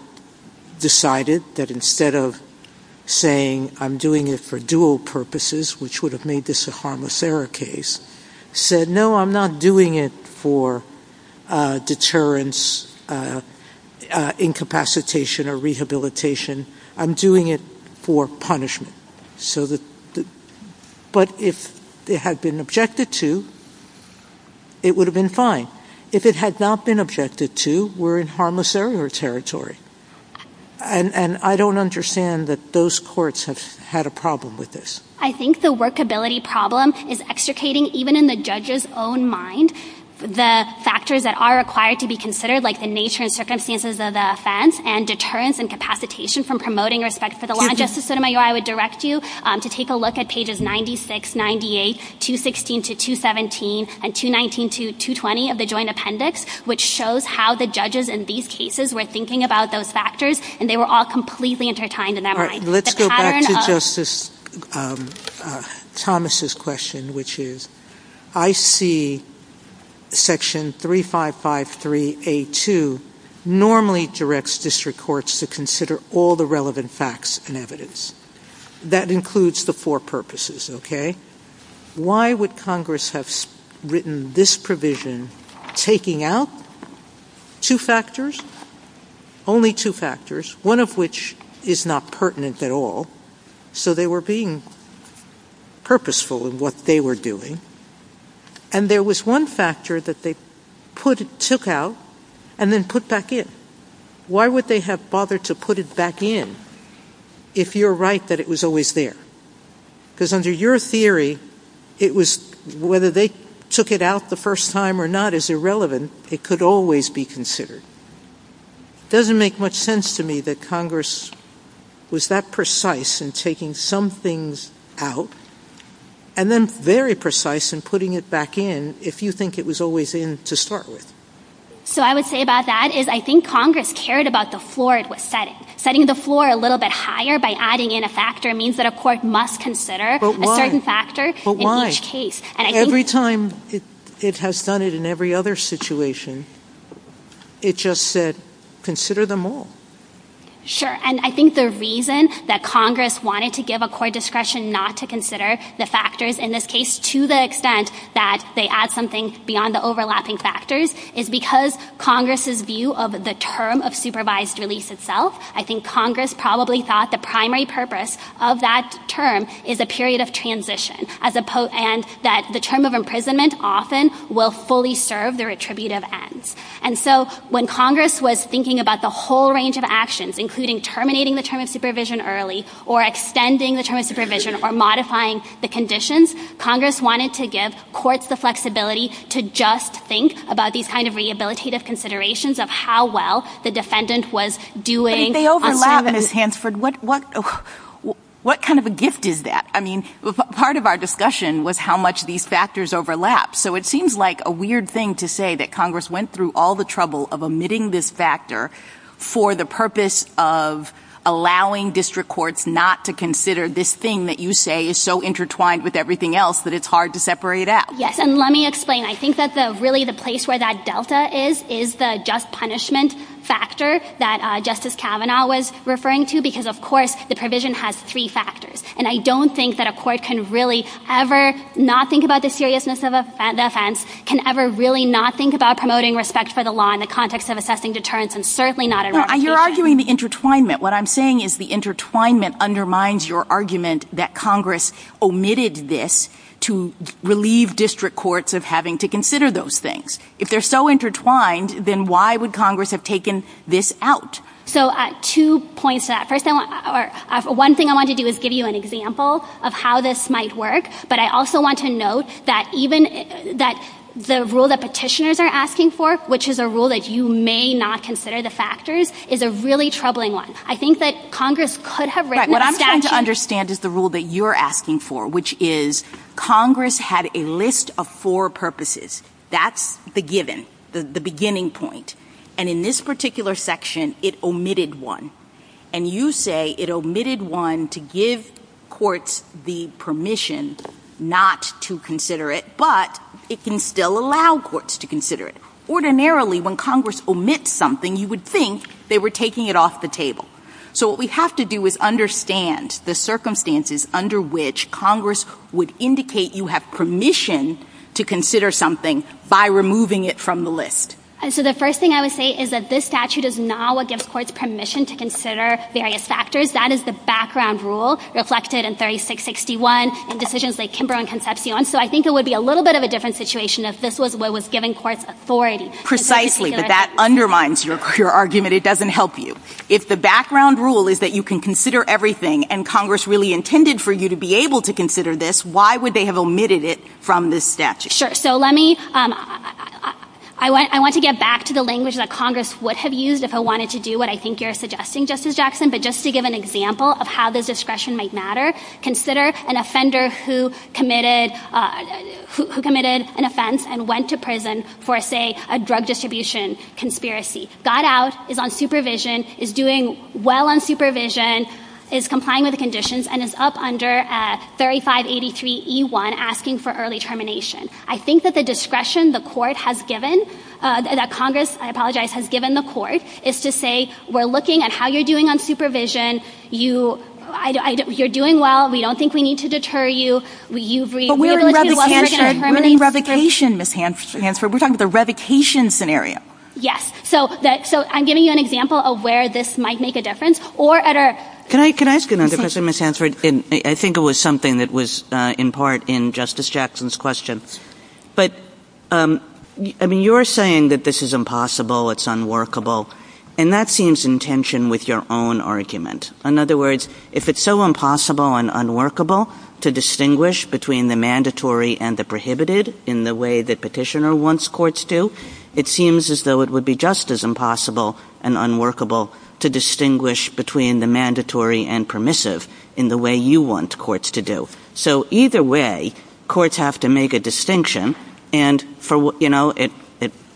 decided that instead of saying, I'm doing it for dual purposes, which would have made this a harmless error case, said, no, I'm not doing it for deterrence, incapacitation, or rehabilitation. I'm doing it for punishment. But if it had been objected to, it would have been fine. If it had not been objected to, we're in harmless error territory. And I don't understand that those courts have had a problem with this. I think the workability problem is extricating, even in the judge's own mind, the factors that are required to be considered, like the nature and circumstances of the offense and deterrence and capacitation from promoting respect for the law. Justice Sotomayor, I would direct you to take a look at pages 96, 98, 216 to 217, and 219 to 220 of the joint appendix, which shows how the judges in these cases were thinking about those factors, and they were all completely intertwined in their mind. Let's go back to Justice Thomas's question, which is, I see section 3553A2 normally directs district courts to consider all the relevant facts and evidence. That includes the four purposes, okay? Why would Congress have written this provision taking out two factors, only two factors, one of which is not pertinent at all? So they were being purposeful in what they were doing. And there was one factor that they took out and then put back in. Why would they have bothered to put it back in if you're right that it was always there? Because under your theory, whether they took it out the first time or not is irrelevant. It could always be considered. It doesn't make much sense to me that Congress was that precise in taking some things out and then very precise in putting it back in if you think it was always in to start with. So I would say about that is I think Congress cared about the floor it was setting. Setting the floor a little bit higher by adding in a factor means that a court must consider a certain factor in each case. Every time it has done it in every other situation, it just said consider them all. Sure. And I think the reason that Congress wanted to give a court discretion not to consider the factors in this case to the extent that they add some things beyond the overlapping factors is because Congress's view of the term of supervised release itself. I think Congress probably thought the primary purpose of that term is a period of transition and that the term of imprisonment often will fully serve their attributive end. And so when Congress was thinking about the whole range of actions, including terminating the term of supervision early or extending the term of supervision or modifying the conditions, Congress wanted to give courts the flexibility to just think about these kind of rehabilitative considerations of how well the defendant was doing. They overlap in a sense. What kind of a gift is that? I mean, part of our discussion was how much these factors overlap. So it seems like a weird thing to say that Congress went through all the trouble of omitting this factor for the purpose of allowing district courts not to consider this thing that you say is so intertwined with everything else that it's hard to separate out. Yes, and let me explain. I think that really the place where that delta is is the just punishment factor that Justice Kavanaugh was referring to because, of course, the provision has three factors. And I don't think that a court can really ever not think about the seriousness of an offense, can ever really not think about promoting respect for the law in the context of assessing deterrence, and certainly not ever think about it. You're arguing the intertwinement. What I'm saying is the intertwinement undermines your argument that Congress omitted this to relieve district courts of having to consider those things. If they're so intertwined, then why would Congress have taken this out? So two points to that. One thing I want to do is give you an example of how this might work, but I also want to note that the rule that petitioners are asking for, which is a rule that you may not consider the factors, is a really troubling one. I think that Congress could have written a statute. What I'm trying to understand is the rule that you're asking for, which is Congress had a list of four purposes. That's the given, the beginning point. And in this particular section, it omitted one. And you say it omitted one to give courts the permission not to consider it, but it can still allow courts to consider it. Ordinarily, when Congress omits something, you would think they were taking it off the table. So what we have to do is understand the circumstances under which Congress would indicate you have permission to consider something by removing it from the list. So the first thing I would say is that this statute does not give courts permission to consider various factors. That is the background rule reflected in 3661 and decisions like Kimbrough and Concepcion. So I think it would be a little bit of a different situation if this was what was giving courts authority. Precisely, but that undermines your argument. It doesn't help you. If the background rule is that you can consider everything and Congress really intended for you to be able to consider this, why would they have omitted it from this statute? I want to get back to the language that Congress would have used if it wanted to do what I think you're suggesting, Justice Jackson. But just to give an example of how this discretion might matter, consider an offender who committed an offense and went to prison for, say, a drug distribution conspiracy. Got out, is on supervision, is doing well on supervision, is complying with the conditions, and is up under 3583E1, asking for early termination. I think that the discretion the court has given, that Congress, I apologize, has given the court, is to say we're looking at how you're doing on supervision. You're doing well. We don't think we need to deter you. But we're in revocation, Ms. Hanford. We're talking about the revocation scenario. Yes. So I'm giving you an example of where this might make a difference. Can I ask another question, Ms. Hanford? I think it was something that was in part in Justice Jackson's question. But, I mean, you're saying that this is impossible, it's unworkable, and that seems in tension with your own argument. In other words, if it's so impossible and unworkable to distinguish between the mandatory and the prohibited in the way that petitioner wants courts to, it seems as though it would be just as impossible and unworkable to distinguish between the mandatory and permissive in the way you want courts to do. So either way, courts have to make a distinction, and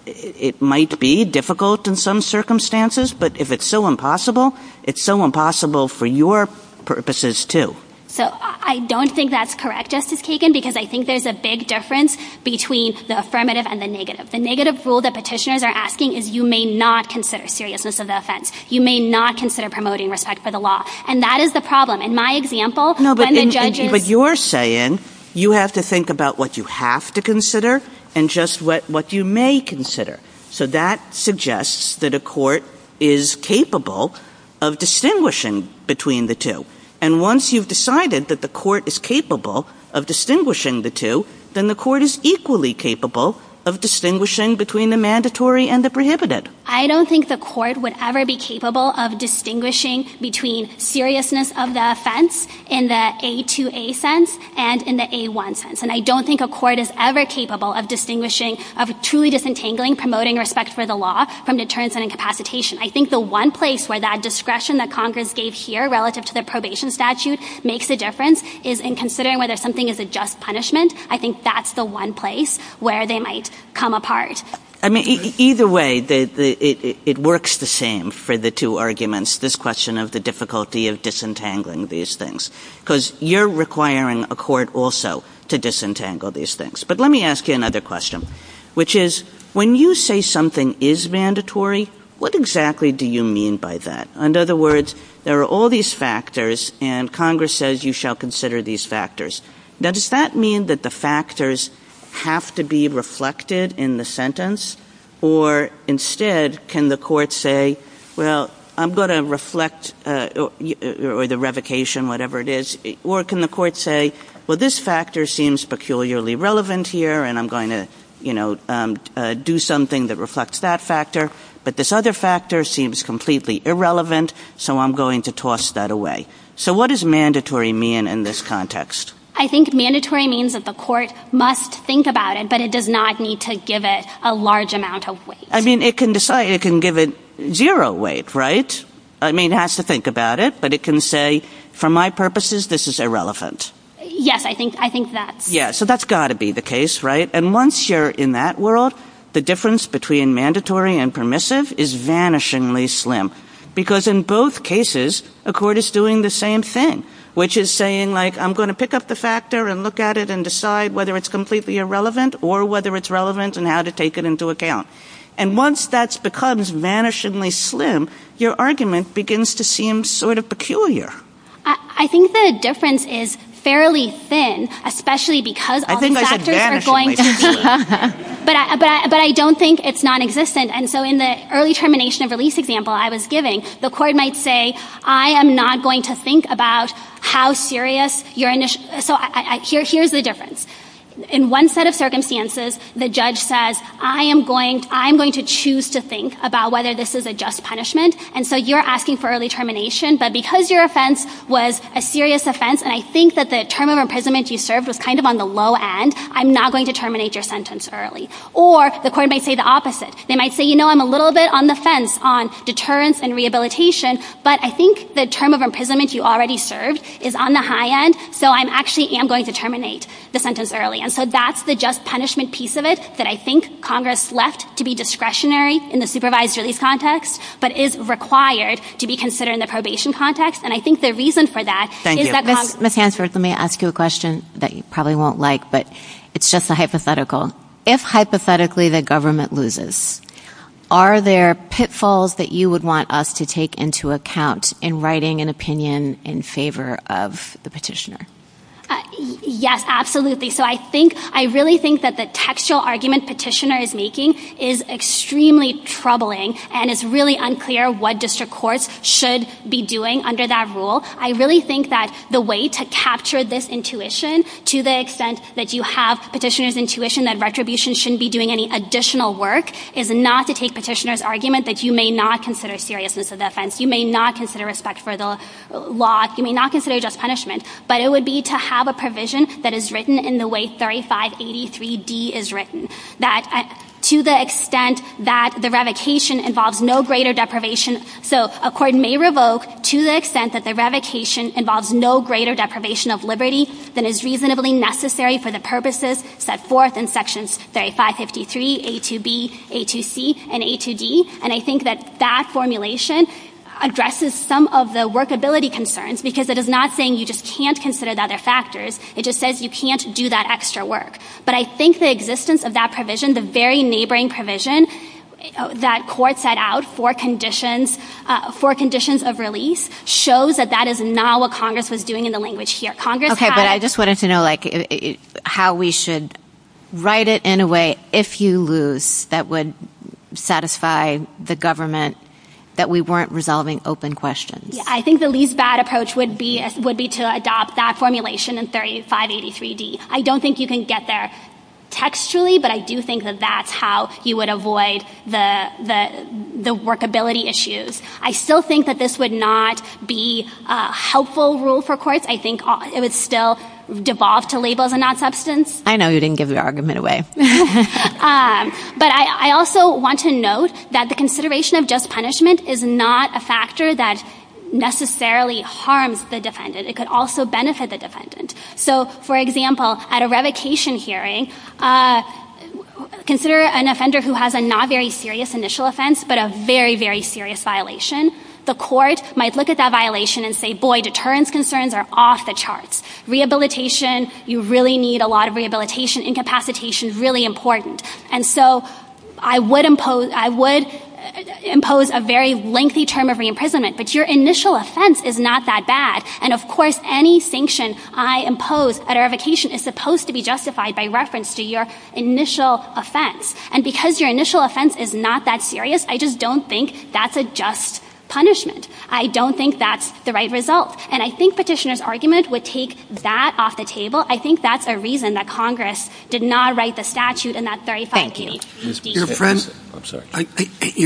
it might be difficult in some circumstances, but if it's so impossible, it's so impossible for your purposes, too. So I don't think that's correct, Justice Kagan, because I think there's a big difference between the affirmative and the negative. The negative rule that petitioners are asking is you may not consider seriousness of the offense. You may not consider promoting respect for the law. And that is the problem. In my example, when the judge is... No, but you're saying you have to think about what you have to consider and just what you may consider. So that suggests that a court is capable of distinguishing between the two. And once you've decided that the court is capable of distinguishing the two, then the court is equally capable of distinguishing between the mandatory and the prohibited. I don't think the court would ever be capable of distinguishing between seriousness of the offense in the A2A sense and in the A1 sense. And I don't think a court is ever capable of truly disentangling promoting respect for the law from deterrence and incapacitation. I think the one place where that discretion that Congress gave here relative to the probation statute makes a difference is in considering whether something is a just punishment. I think that's the one place where they might come apart. I mean, either way, it works the same for the two arguments, this question of the difficulty of disentangling these things. Because you're requiring a court also to disentangle these things. But let me ask you another question, which is, when you say something is mandatory, what exactly do you mean by that? In other words, there are all these factors, and Congress says you shall consider these factors. Now, does that mean that the factors have to be reflected in the sentence? Or instead, can the court say, well, I'm going to reflect, or the revocation, whatever it is, or can the court say, well, this factor seems peculiarly relevant here, and I'm going to do something that reflects that factor, but this other factor seems completely irrelevant, so I'm going to toss that away. So what does mandatory mean in this context? I think mandatory means that the court must think about it, but it does not need to give it a large amount of weight. I mean, it can give it zero weight, right? I mean, it has to think about it, but it can say, for my purposes, this is irrelevant. Yes, I think that's... Yeah, so that's got to be the case, right? And once you're in that world, the difference between mandatory and permissive is vanishingly slim. Because in both cases, a court is doing the same thing, which is saying, like, I'm going to pick up the factor and look at it and decide whether it's completely irrelevant or whether it's relevant and how to take it into account. And once that becomes vanishingly slim, your argument begins to seem sort of peculiar. I think the difference is fairly thin, especially because all the factors are going to be... But I don't think it's nonexistent. And so in the early termination of release example I was giving, the court might say, I am not going to think about how serious your initial... So here's the difference. In one set of circumstances, the judge says, I am going to choose to think about whether this is a just punishment, and so you're asking for early termination, but because your offence was a serious offence and I think that the term of imprisonment you served was kind of on the low end, I'm not going to terminate your sentence early. Or the court might say the opposite. They might say, you know, I'm a little bit on the fence on deterrence and rehabilitation, but I think the term of imprisonment you already served is on the high end, so I actually am going to terminate the sentence early. And so that's the just punishment piece of it that I think Congress left to be discretionary in the supervised release context but is required to be considered in the probation context, and I think the reason for that is that Congress... Ms. Hansworth, let me ask you a question that you probably won't like, but it's just a hypothetical. If, hypothetically, the government loses, are there pitfalls that you would want us to take into account in writing an opinion in favor of the petitioner? Yes, absolutely. So I really think that the textual argument petitioner is making is extremely troubling and it's really unclear what district courts should be doing under that rule. I really think that the way to capture this intuition to the extent that you have petitioner's intuition that retribution shouldn't be doing any additional work is not to take petitioner's argument that you may not consider seriousness of offense, you may not consider respect for the law, you may not consider just punishment, but it would be to have a provision that is written in the way 3583D is written, that to the extent that the revocation involves no greater deprivation. So a court may revoke to the extent that the revocation involves no greater deprivation of liberty than is reasonably necessary for the purposes set forth in sections 3553, A2B, A2C, and A2D, and I think that that formulation addresses some of the workability concerns because it is not saying you just can't consider the other factors, it just says you can't do that extra work. But I think the existence of that provision, the very neighboring provision that courts set out for conditions of release shows that that is now what Congress is doing in the language here. Okay, but I just wanted to know how we should write it in a way, if you lose, that would satisfy the government that we weren't resolving open questions. I think the least bad approach would be to adopt that formulation in 3583D. I don't think you can get there textually, but I do think that that's how you would avoid the workability issues. I still think that this would not be a helpful rule for courts. I think it would still devolve to labels and not substance. I know you didn't give the argument away. But I also want to note that the consideration of just punishment is not a factor that necessarily harms the defendant. It could also benefit the defendant. So, for example, at a revocation hearing, consider an offender who has a not very serious initial offense but a very, very serious violation. The court might look at that violation and say, boy, deterrence concerns are off the charts. Rehabilitation, you really need a lot of rehabilitation. Incapacitation is really important. And so I would impose a very lengthy term of re-imprisonment, but your initial offense is not that bad. And, of course, any sanction I impose at a revocation is supposed to be justified by reference to your initial offense. And because your initial offense is not that serious, I just don't think that's a just punishment. I don't think that's the right result. And I think Petitioner's argument would take that off the table. I think that's the reason that Congress did not write the statute in that 35 PDHC case.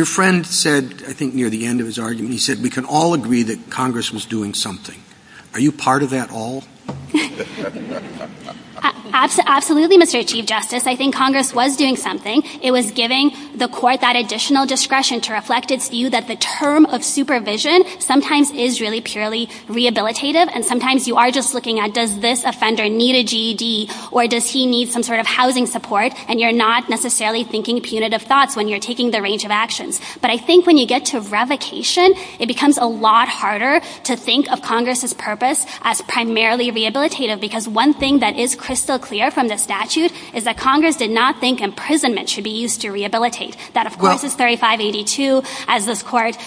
Your friend said, I think near the end of his argument, he said we can all agree that Congress was doing something. Are you part of that all? Absolutely, Mr. Chief Justice. I think Congress was doing something. It was giving the court that additional discretion to reflect its view that the term of supervision sometimes is really purely rehabilitative, and sometimes you are just looking at does this offender need a GED or does he need some sort of housing support, and you're not necessarily thinking punitive thoughts when you're taking the range of actions. But I think when you get to revocation, it becomes a lot harder to think of Congress's purpose as primarily rehabilitative, because one thing that is crystal clear from the statute is that Congress did not think imprisonment should be used to rehabilitate. That, of course, is 3582 as the court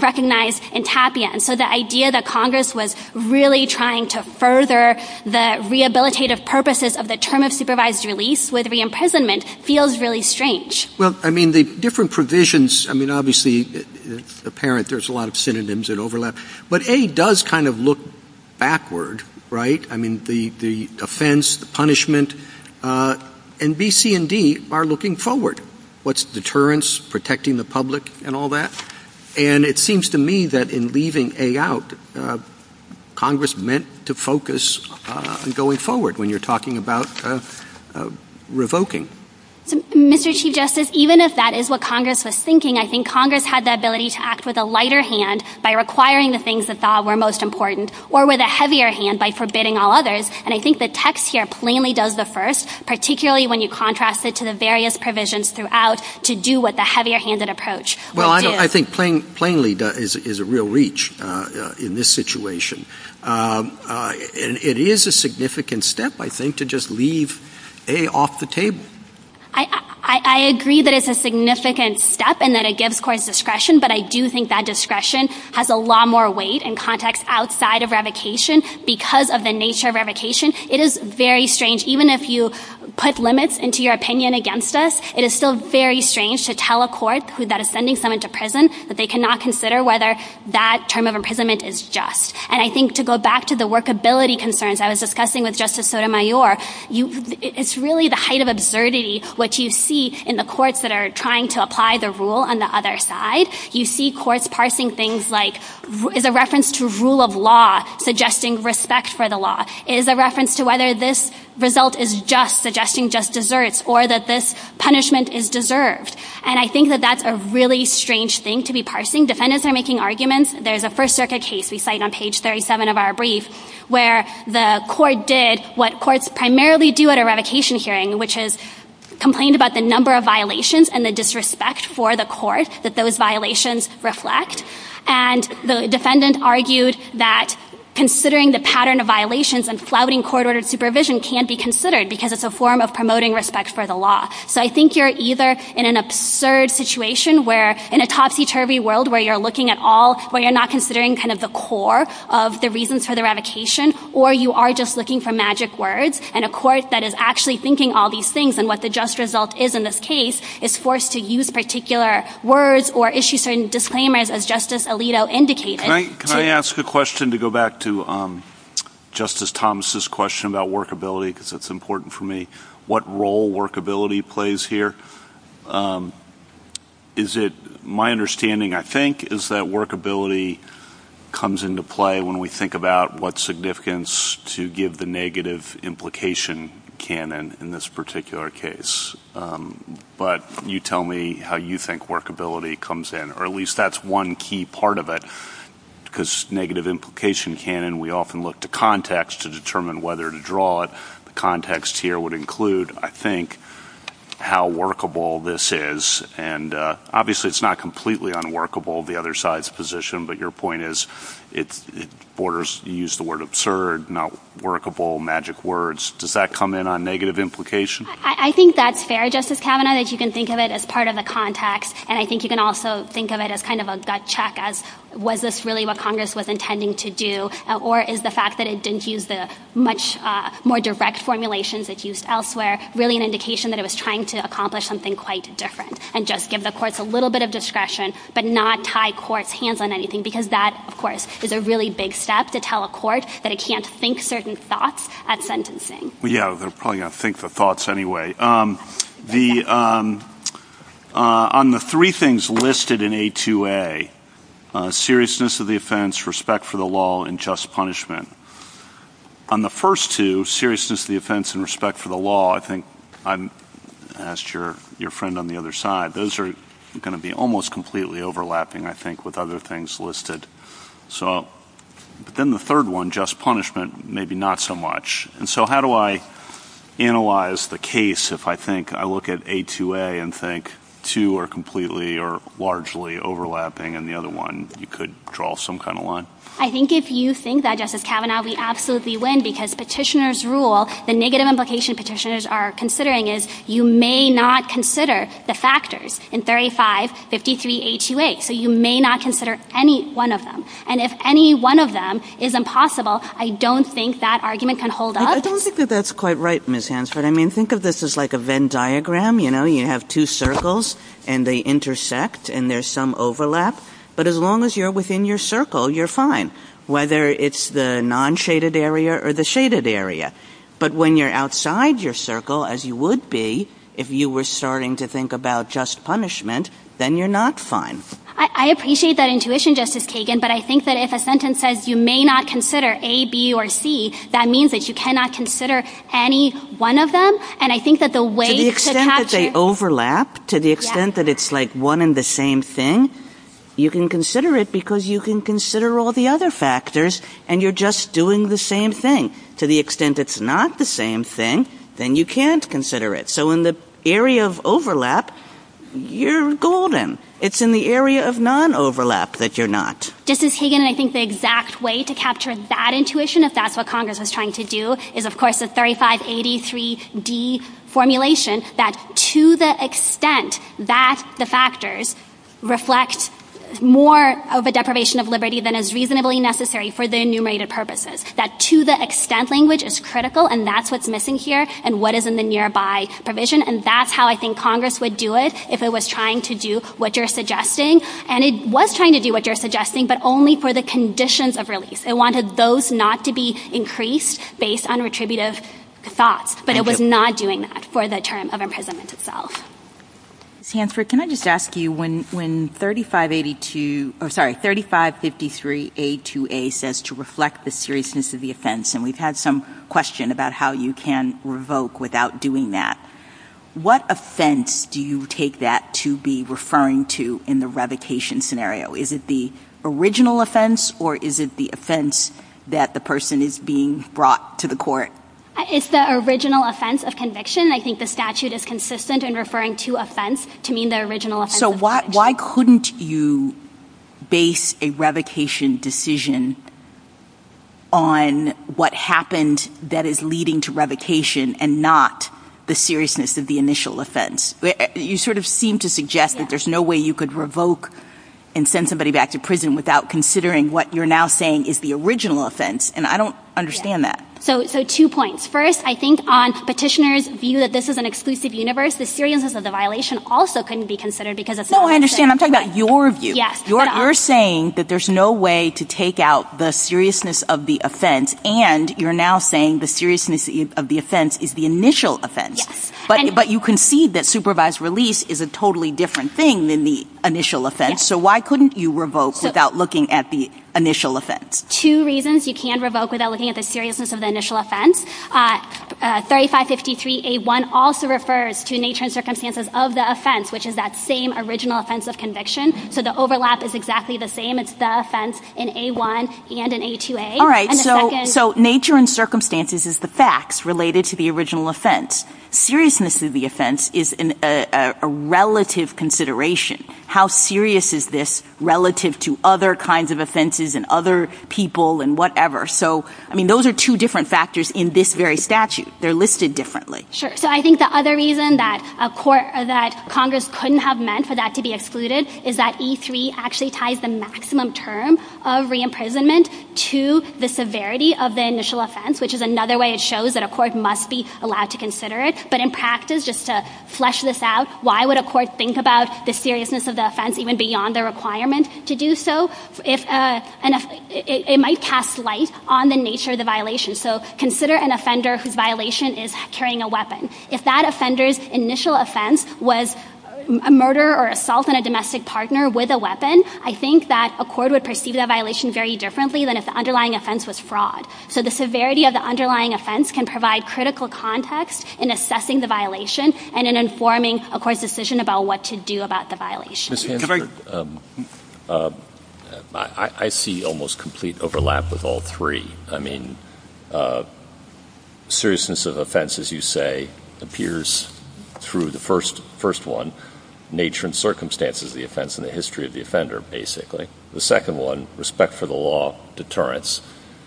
recognized in Tapia, and so the idea that Congress was really trying to further the rehabilitative purposes of the term of supervised release with re-imprisonment feels really strange. Well, I mean, the different provisions, I mean, obviously, apparent there's a lot of synonyms that overlap, but A does kind of look backward, right? I mean, the offense, the punishment, and B, C, and D are looking forward. What's deterrence, protecting the public, and all that? And it seems to me that in leaving A out, Congress meant to focus going forward when you're talking about revoking. Mr. Chief Justice, even if that is what Congress was thinking, I think Congress had the ability to act with a lighter hand by requiring the things that thought were most important or with a heavier hand by forbidding all others, and I think the text here plainly does the first, particularly when you contrast it to the various provisions throughout to do what the heavier-handed approach would do. Well, I think plainly is a real reach in this situation. It is a significant step, I think, to just leave A off the table. I agree that it's a significant step and that it gives courts discretion, but I do think that discretion has a lot more weight and context outside of revocation because of the nature of revocation. It is very strange. Even if you put limits into your opinion against this, it is still very strange to tell a court that is sending someone to prison that they cannot consider whether that term of imprisonment is just. And I think to go back to the workability concerns I was discussing with Justice Sotomayor, it's really the height of absurdity what you see in the courts that are trying to apply the rule on the other side. You see courts parsing things like, is a reference to rule of law suggesting respect for the law? Is a reference to whether this result is just suggesting just deserts or that this punishment is deserved? And I think that that's a really strange thing to be parsing. Defendants are making arguments. There's a First Circuit case we cite on page 37 of our brief where the court did what courts primarily do at a revocation hearing, which is complained about the number of violations and the disrespect for the court that those violations reflect. And the defendant argued that considering the pattern of violations and flouting court-ordered supervision can't be considered because it's a form of promoting respect for the law. So I think you're either in an absurd situation where in a topsy-turvy world where you're looking at all, where you're not considering kind of the core of the reasons for the revocation or you are just looking for magic words and a court that is actually thinking all these things and what the just result is in this case is forced to use particular words or issue certain disclaimers as Justice Alito indicated. Can I ask a question to go back to Justice Thomas' question about workability because it's important for me? What role workability plays here? Is it my understanding, I think, is that workability comes into play when we think about what significance to give the negative implication canon in this particular case. But you tell me how you think workability comes in or at least that's one key part of it because negative implication canon, we often look to context to determine whether to draw it. The context here would include, I think, how workable this is and obviously it's not completely unworkable, the other side's position, but your point is it borders, you used the word absurd, not workable, magic words. Does that come in on negative implication? I think that's fair, Justice Kavanaugh, that you can think of it as part of the context and I think you can also think of it as kind of a gut check as was this really what Congress was intending to do or is the fact that it didn't use the much more direct formulations it used elsewhere really an indication that it was trying to accomplish something quite different and just give the courts a little bit of discretion but not tie courts' hands on anything because that, of course, is a really big step to tell a court that it can't think certain thoughts at sentencing. Yeah, they're probably going to think the thoughts anyway. On the three things listed in A2A, seriousness of the offense, respect for the law, and just punishment, on the first two, seriousness of the offense and respect for the law, I think I asked your friend on the other side, those are going to be almost completely overlapping, I think, with other things listed. But then the third one, just punishment, maybe not so much. And so how do I analyze the case if I think I look at A2A and think two are completely or largely overlapping and the other one you could draw some kind of line? I think if you think that, Justice Kavanaugh, we absolutely win because petitioners' rule, the negative implication petitioners are considering is you may not consider the factors in 35, 53, A2A. So you may not consider any one of them. And if any one of them is impossible, I don't think that argument can hold up. I don't think that that's quite right, Ms. Hansford. I mean, think of this as like a Venn diagram. You know, you have two circles and they intersect and there's some overlap. But as long as you're within your circle, you're fine, whether it's the non-shaded area or the shaded area. But when you're outside your circle, as you would be, if you were starting to think about just punishment, then you're not fine. I appreciate that intuition, Justice Kagan, but I think that if a sentence says you may not consider A, B, or C, that means that you cannot consider any one of them. And I think that the way to capture... To the extent that they overlap, to the extent that it's like one and the same thing, you can consider it because you can consider all the other factors and you're just doing the same thing. To the extent it's not the same thing, then you can't consider it. So in the area of overlap, you're golden. It's in the area of non-overlap that you're not. Justice Kagan, and I think the exact way to capture that intuition, if that's what Congress was trying to do, is of course the 3583D formulation, that to the extent that the factors reflect more of a deprivation of liberty than is reasonably necessary for the enumerated purposes. That to the extent language is critical and that's what's missing here and what is in the nearby provision. And that's how I think Congress would do it if it was trying to do what you're suggesting. And it was trying to do what you're suggesting, but only for the conditions of release. It wanted those not to be increased based on retributive thoughts, but it was not doing that for the term of imprisonment itself. Sanford, can I just ask you, when 3583A2A says to reflect the seriousness of the offense, and we've had some question about how you can revoke without doing that, what offense do you take that to be referring to in the revocation scenario? Is it the original offense or is it the offense that the person is being brought to the court? It's the original offense of conviction. I think the statute is consistent in referring to offense to mean the original offense of conviction. So why couldn't you base a revocation decision on what happened that is leading to revocation and not the seriousness of the initial offense? You sort of seem to suggest that there's no way you could revoke and send somebody back to prison without considering what you're now saying is the original offense, and I don't understand that. So two points. First, I think on petitioner's view that this is an exclusive universe, the seriousness of the violation also couldn't be considered because of... No, I understand. I'm talking about your view. You're saying that there's no way to take out the seriousness of the offense, and you're now saying the seriousness of the offense is the initial offense. Yes. But you concede that supervised release is a totally different thing than the initial offense. Yes. So why couldn't you revoke without looking at the initial offense? Two reasons you can revoke without looking at the seriousness of the initial offense. 3553A1 also refers to nature and circumstances of the offense, which is that same original offense of conviction. So the overlap is exactly the same. It's the offense in A1 and in A2A. All right, so nature and circumstances is the facts related to the original offense. Seriousness of the offense is a relative consideration. How serious is this relative to other kinds of offenses and other people and whatever? So, I mean, those are two different factors in this very statute. They're listed differently. Sure. So I think the other reason that Congress couldn't have meant for that to be excluded is that E3 actually ties the maximum term of reimprisonment to the severity of the initial offense, which is another way it shows that a court must be allowed to consider it. But in practice, just to flesh this out, why would a court think about the seriousness of the offense even beyond the requirement to do so? It might cast light on the nature of the violation. So consider an offender whose violation is carrying a weapon. If that offender's initial offense was a murder or assault on a domestic partner with a weapon, I think that a court would perceive that violation very differently than if the underlying offense was fraud. So the severity of the underlying offense can provide critical context in assessing the violation and in informing a court's decision about what to do about the violation. I see almost complete overlap with all three. I mean, seriousness of offense, as you say, appears through the first one, nature and circumstances of the offense and the history of the offender, basically. The second one, respect for the law, deterrence.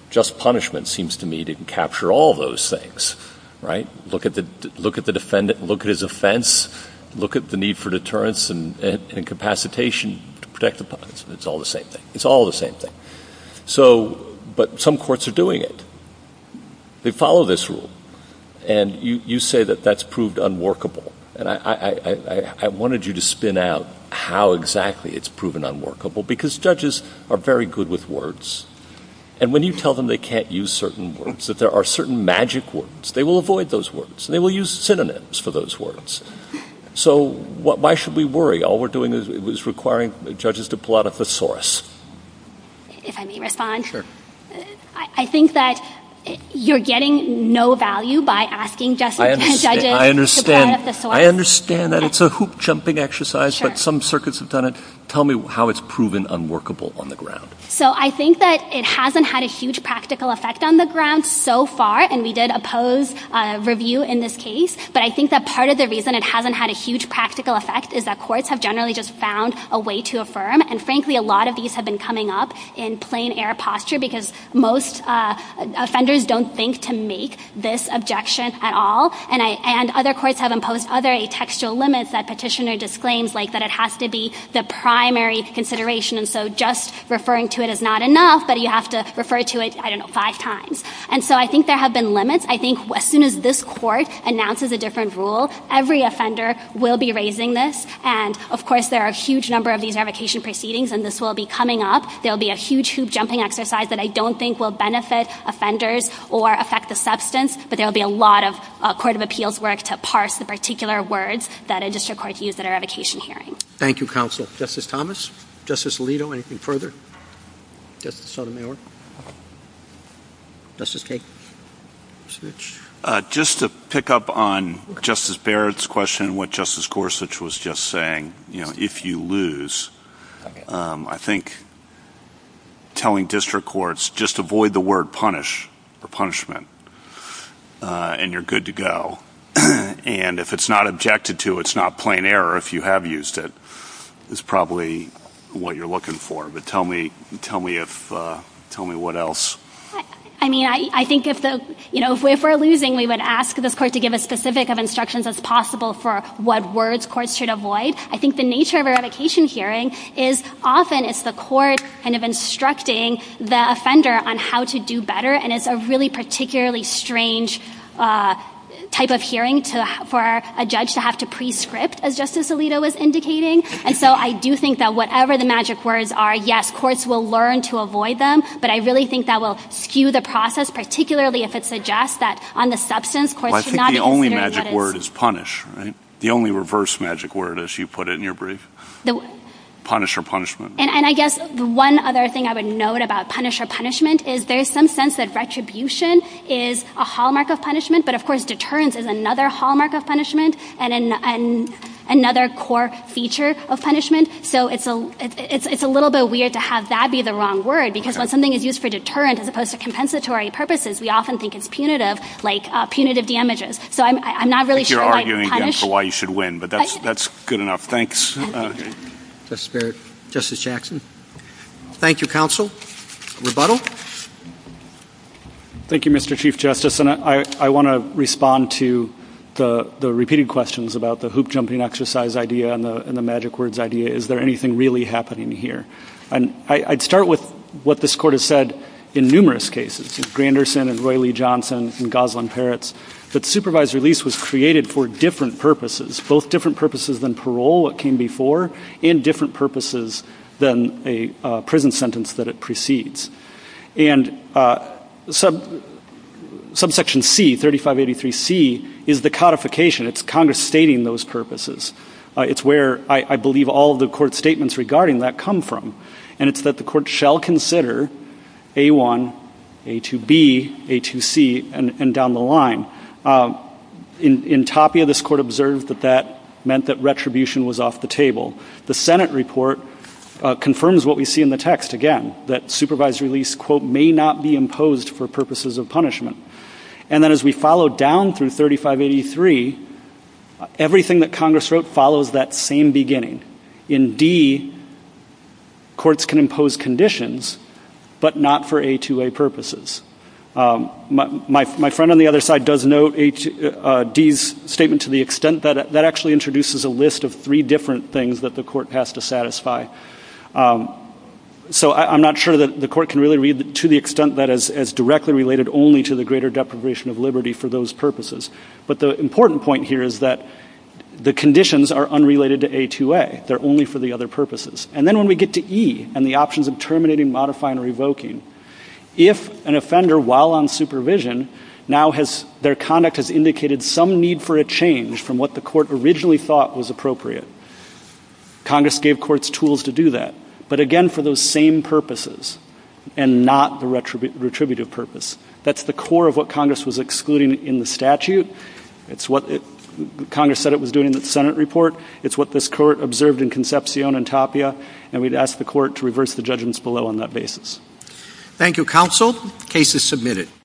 Just punishment seems to me to capture all those things, right? Look at the defendant, look at his offense, look at the need for deterrence and capacitation to protect the parties. It's all the same thing. It's all the same thing. But some courts are doing it. They follow this rule. And you say that that's proved unworkable. And I wanted you to spin out how exactly it's proven unworkable because judges are very good with words. And when you tell them they can't use certain words, if there are certain magic words, they will avoid those words. They will use synonyms for those words. So why should we worry? All we're doing is requiring judges to pull out a thesaurus. If I may respond, I think that you're getting no value by asking judges to pull out a thesaurus. I understand that it's a hoop-jumping exercise, but some circuits have done it. Tell me how it's proven unworkable on the ground. So I think that it hasn't had a huge practical effect on the ground so far. And we did oppose review in this case. But I think that part of the reason it hasn't had a huge practical effect is that courts have generally just found a way to affirm. And frankly, a lot of these have been coming up in plain air posture because most offenders don't think to make this objection at all. And other courts have imposed other atextual limits that petitioner disclaims, like that it has to be the primary consideration. And so just referring to it as not enough, but you have to refer to it, I don't know, five times. And so I think there have been limits. I think as soon as this court announces a different rule, every offender will be raising this. And, of course, there are a huge number of these revocation proceedings, and this will be coming up. There will be a huge hoop-jumping exercise that I don't think will benefit offenders or affect the substance, but there will be a lot of court of appeals work to parse the particular words that a district court used at a revocation hearing. Thank you, counsel. Justice Thomas? Justice Alito, anything further? Justice Sotomayor? Justice Cain? Just to pick up on Justice Barrett's question, what Justice Gorsuch was just saying, you know, if you lose, I think telling district courts, just avoid the word punish or punishment, and you're good to go. And if it's not objected to, it's not plain error if you have used it, is probably what you're looking for. But tell me what else. I mean, I think if we're losing, we would ask the court to give as specific of instructions as possible for what words courts should avoid. I think the nature of a revocation hearing is often it's the court kind of instructing the offender on how to do better, and it's a really particularly strange type of hearing for a judge to have to prescript, as Justice Alito was indicating. And so I do think that whatever the magic words are, yes, courts will learn to avoid them, but I really think that will skew the process, particularly if it suggests that on the substance, courts should not interfere with it. Well, I think the only magic word is punish, right? The only reverse magic word, as you put it in your brief. Punish or punishment. And I guess one other thing I would note about punish or punishment is there's some sense that retribution is a hallmark of punishment, but of course deterrence is another hallmark of punishment and another core feature of punishment. So it's a little bit weird to have that be the wrong word because when something is used for deterrent as opposed to compensatory purposes, we often think it's punitive, like punitive damages. So I'm not really sure why punish... I think you're arguing, counsel, why you should win, but that's good enough. Thanks. That's fair. Justice Jackson? Thank you, counsel. Rebuttal? Thank you, Mr. Chief Justice, and I want to respond to the repeated questions about the hoop-jumping exercise idea and the magic words idea. Is there anything really happening here? And I'd start with what this Court has said in numerous cases, with Granderson and Roy Lee Johnson and Gosling Peretz, that supervised release was created for different purposes, both different purposes than parole that came before and different purposes than a prison sentence that it precedes. And Subsection C, 3583C, is the codification. It's Congress stating those purposes. It's where I believe all the Court statements regarding that come from, and it's that the Court shall consider A1, A2B, A2C, and down the line. In Tapia, this Court observed that that meant that retribution was off the table. The Senate report confirms what we see in the text, again, that supervised release, quote, may not be imposed for purposes of punishment. And then as we follow down through 3583, everything that Congress wrote follows that same beginning. In D, courts can impose conditions but not for A2A purposes. My friend on the other side does note D's statement to the extent that that actually introduces a list of three different things that the Court has to satisfy. So I'm not sure that the Court can really read to the extent that as directly related only to the greater deprivation of liberty for those purposes. But the important point here is that the conditions are unrelated to A2A. They're only for the other purposes. And then when we get to E and the options of terminating, modifying, or revoking, if an offender, while on supervision, now their conduct has indicated some need for a change from what the Court originally thought was appropriate, Congress gave courts tools to do that, but again for those same purposes and not the retributive purpose. That's the core of what Congress was excluding in the statute. It's what Congress said it was doing in the Senate report. It's what this Court observed in Concepcion and Tapia. And we'd ask the Court to reverse the judgments below on that basis. Thank you, Counsel. The case is submitted.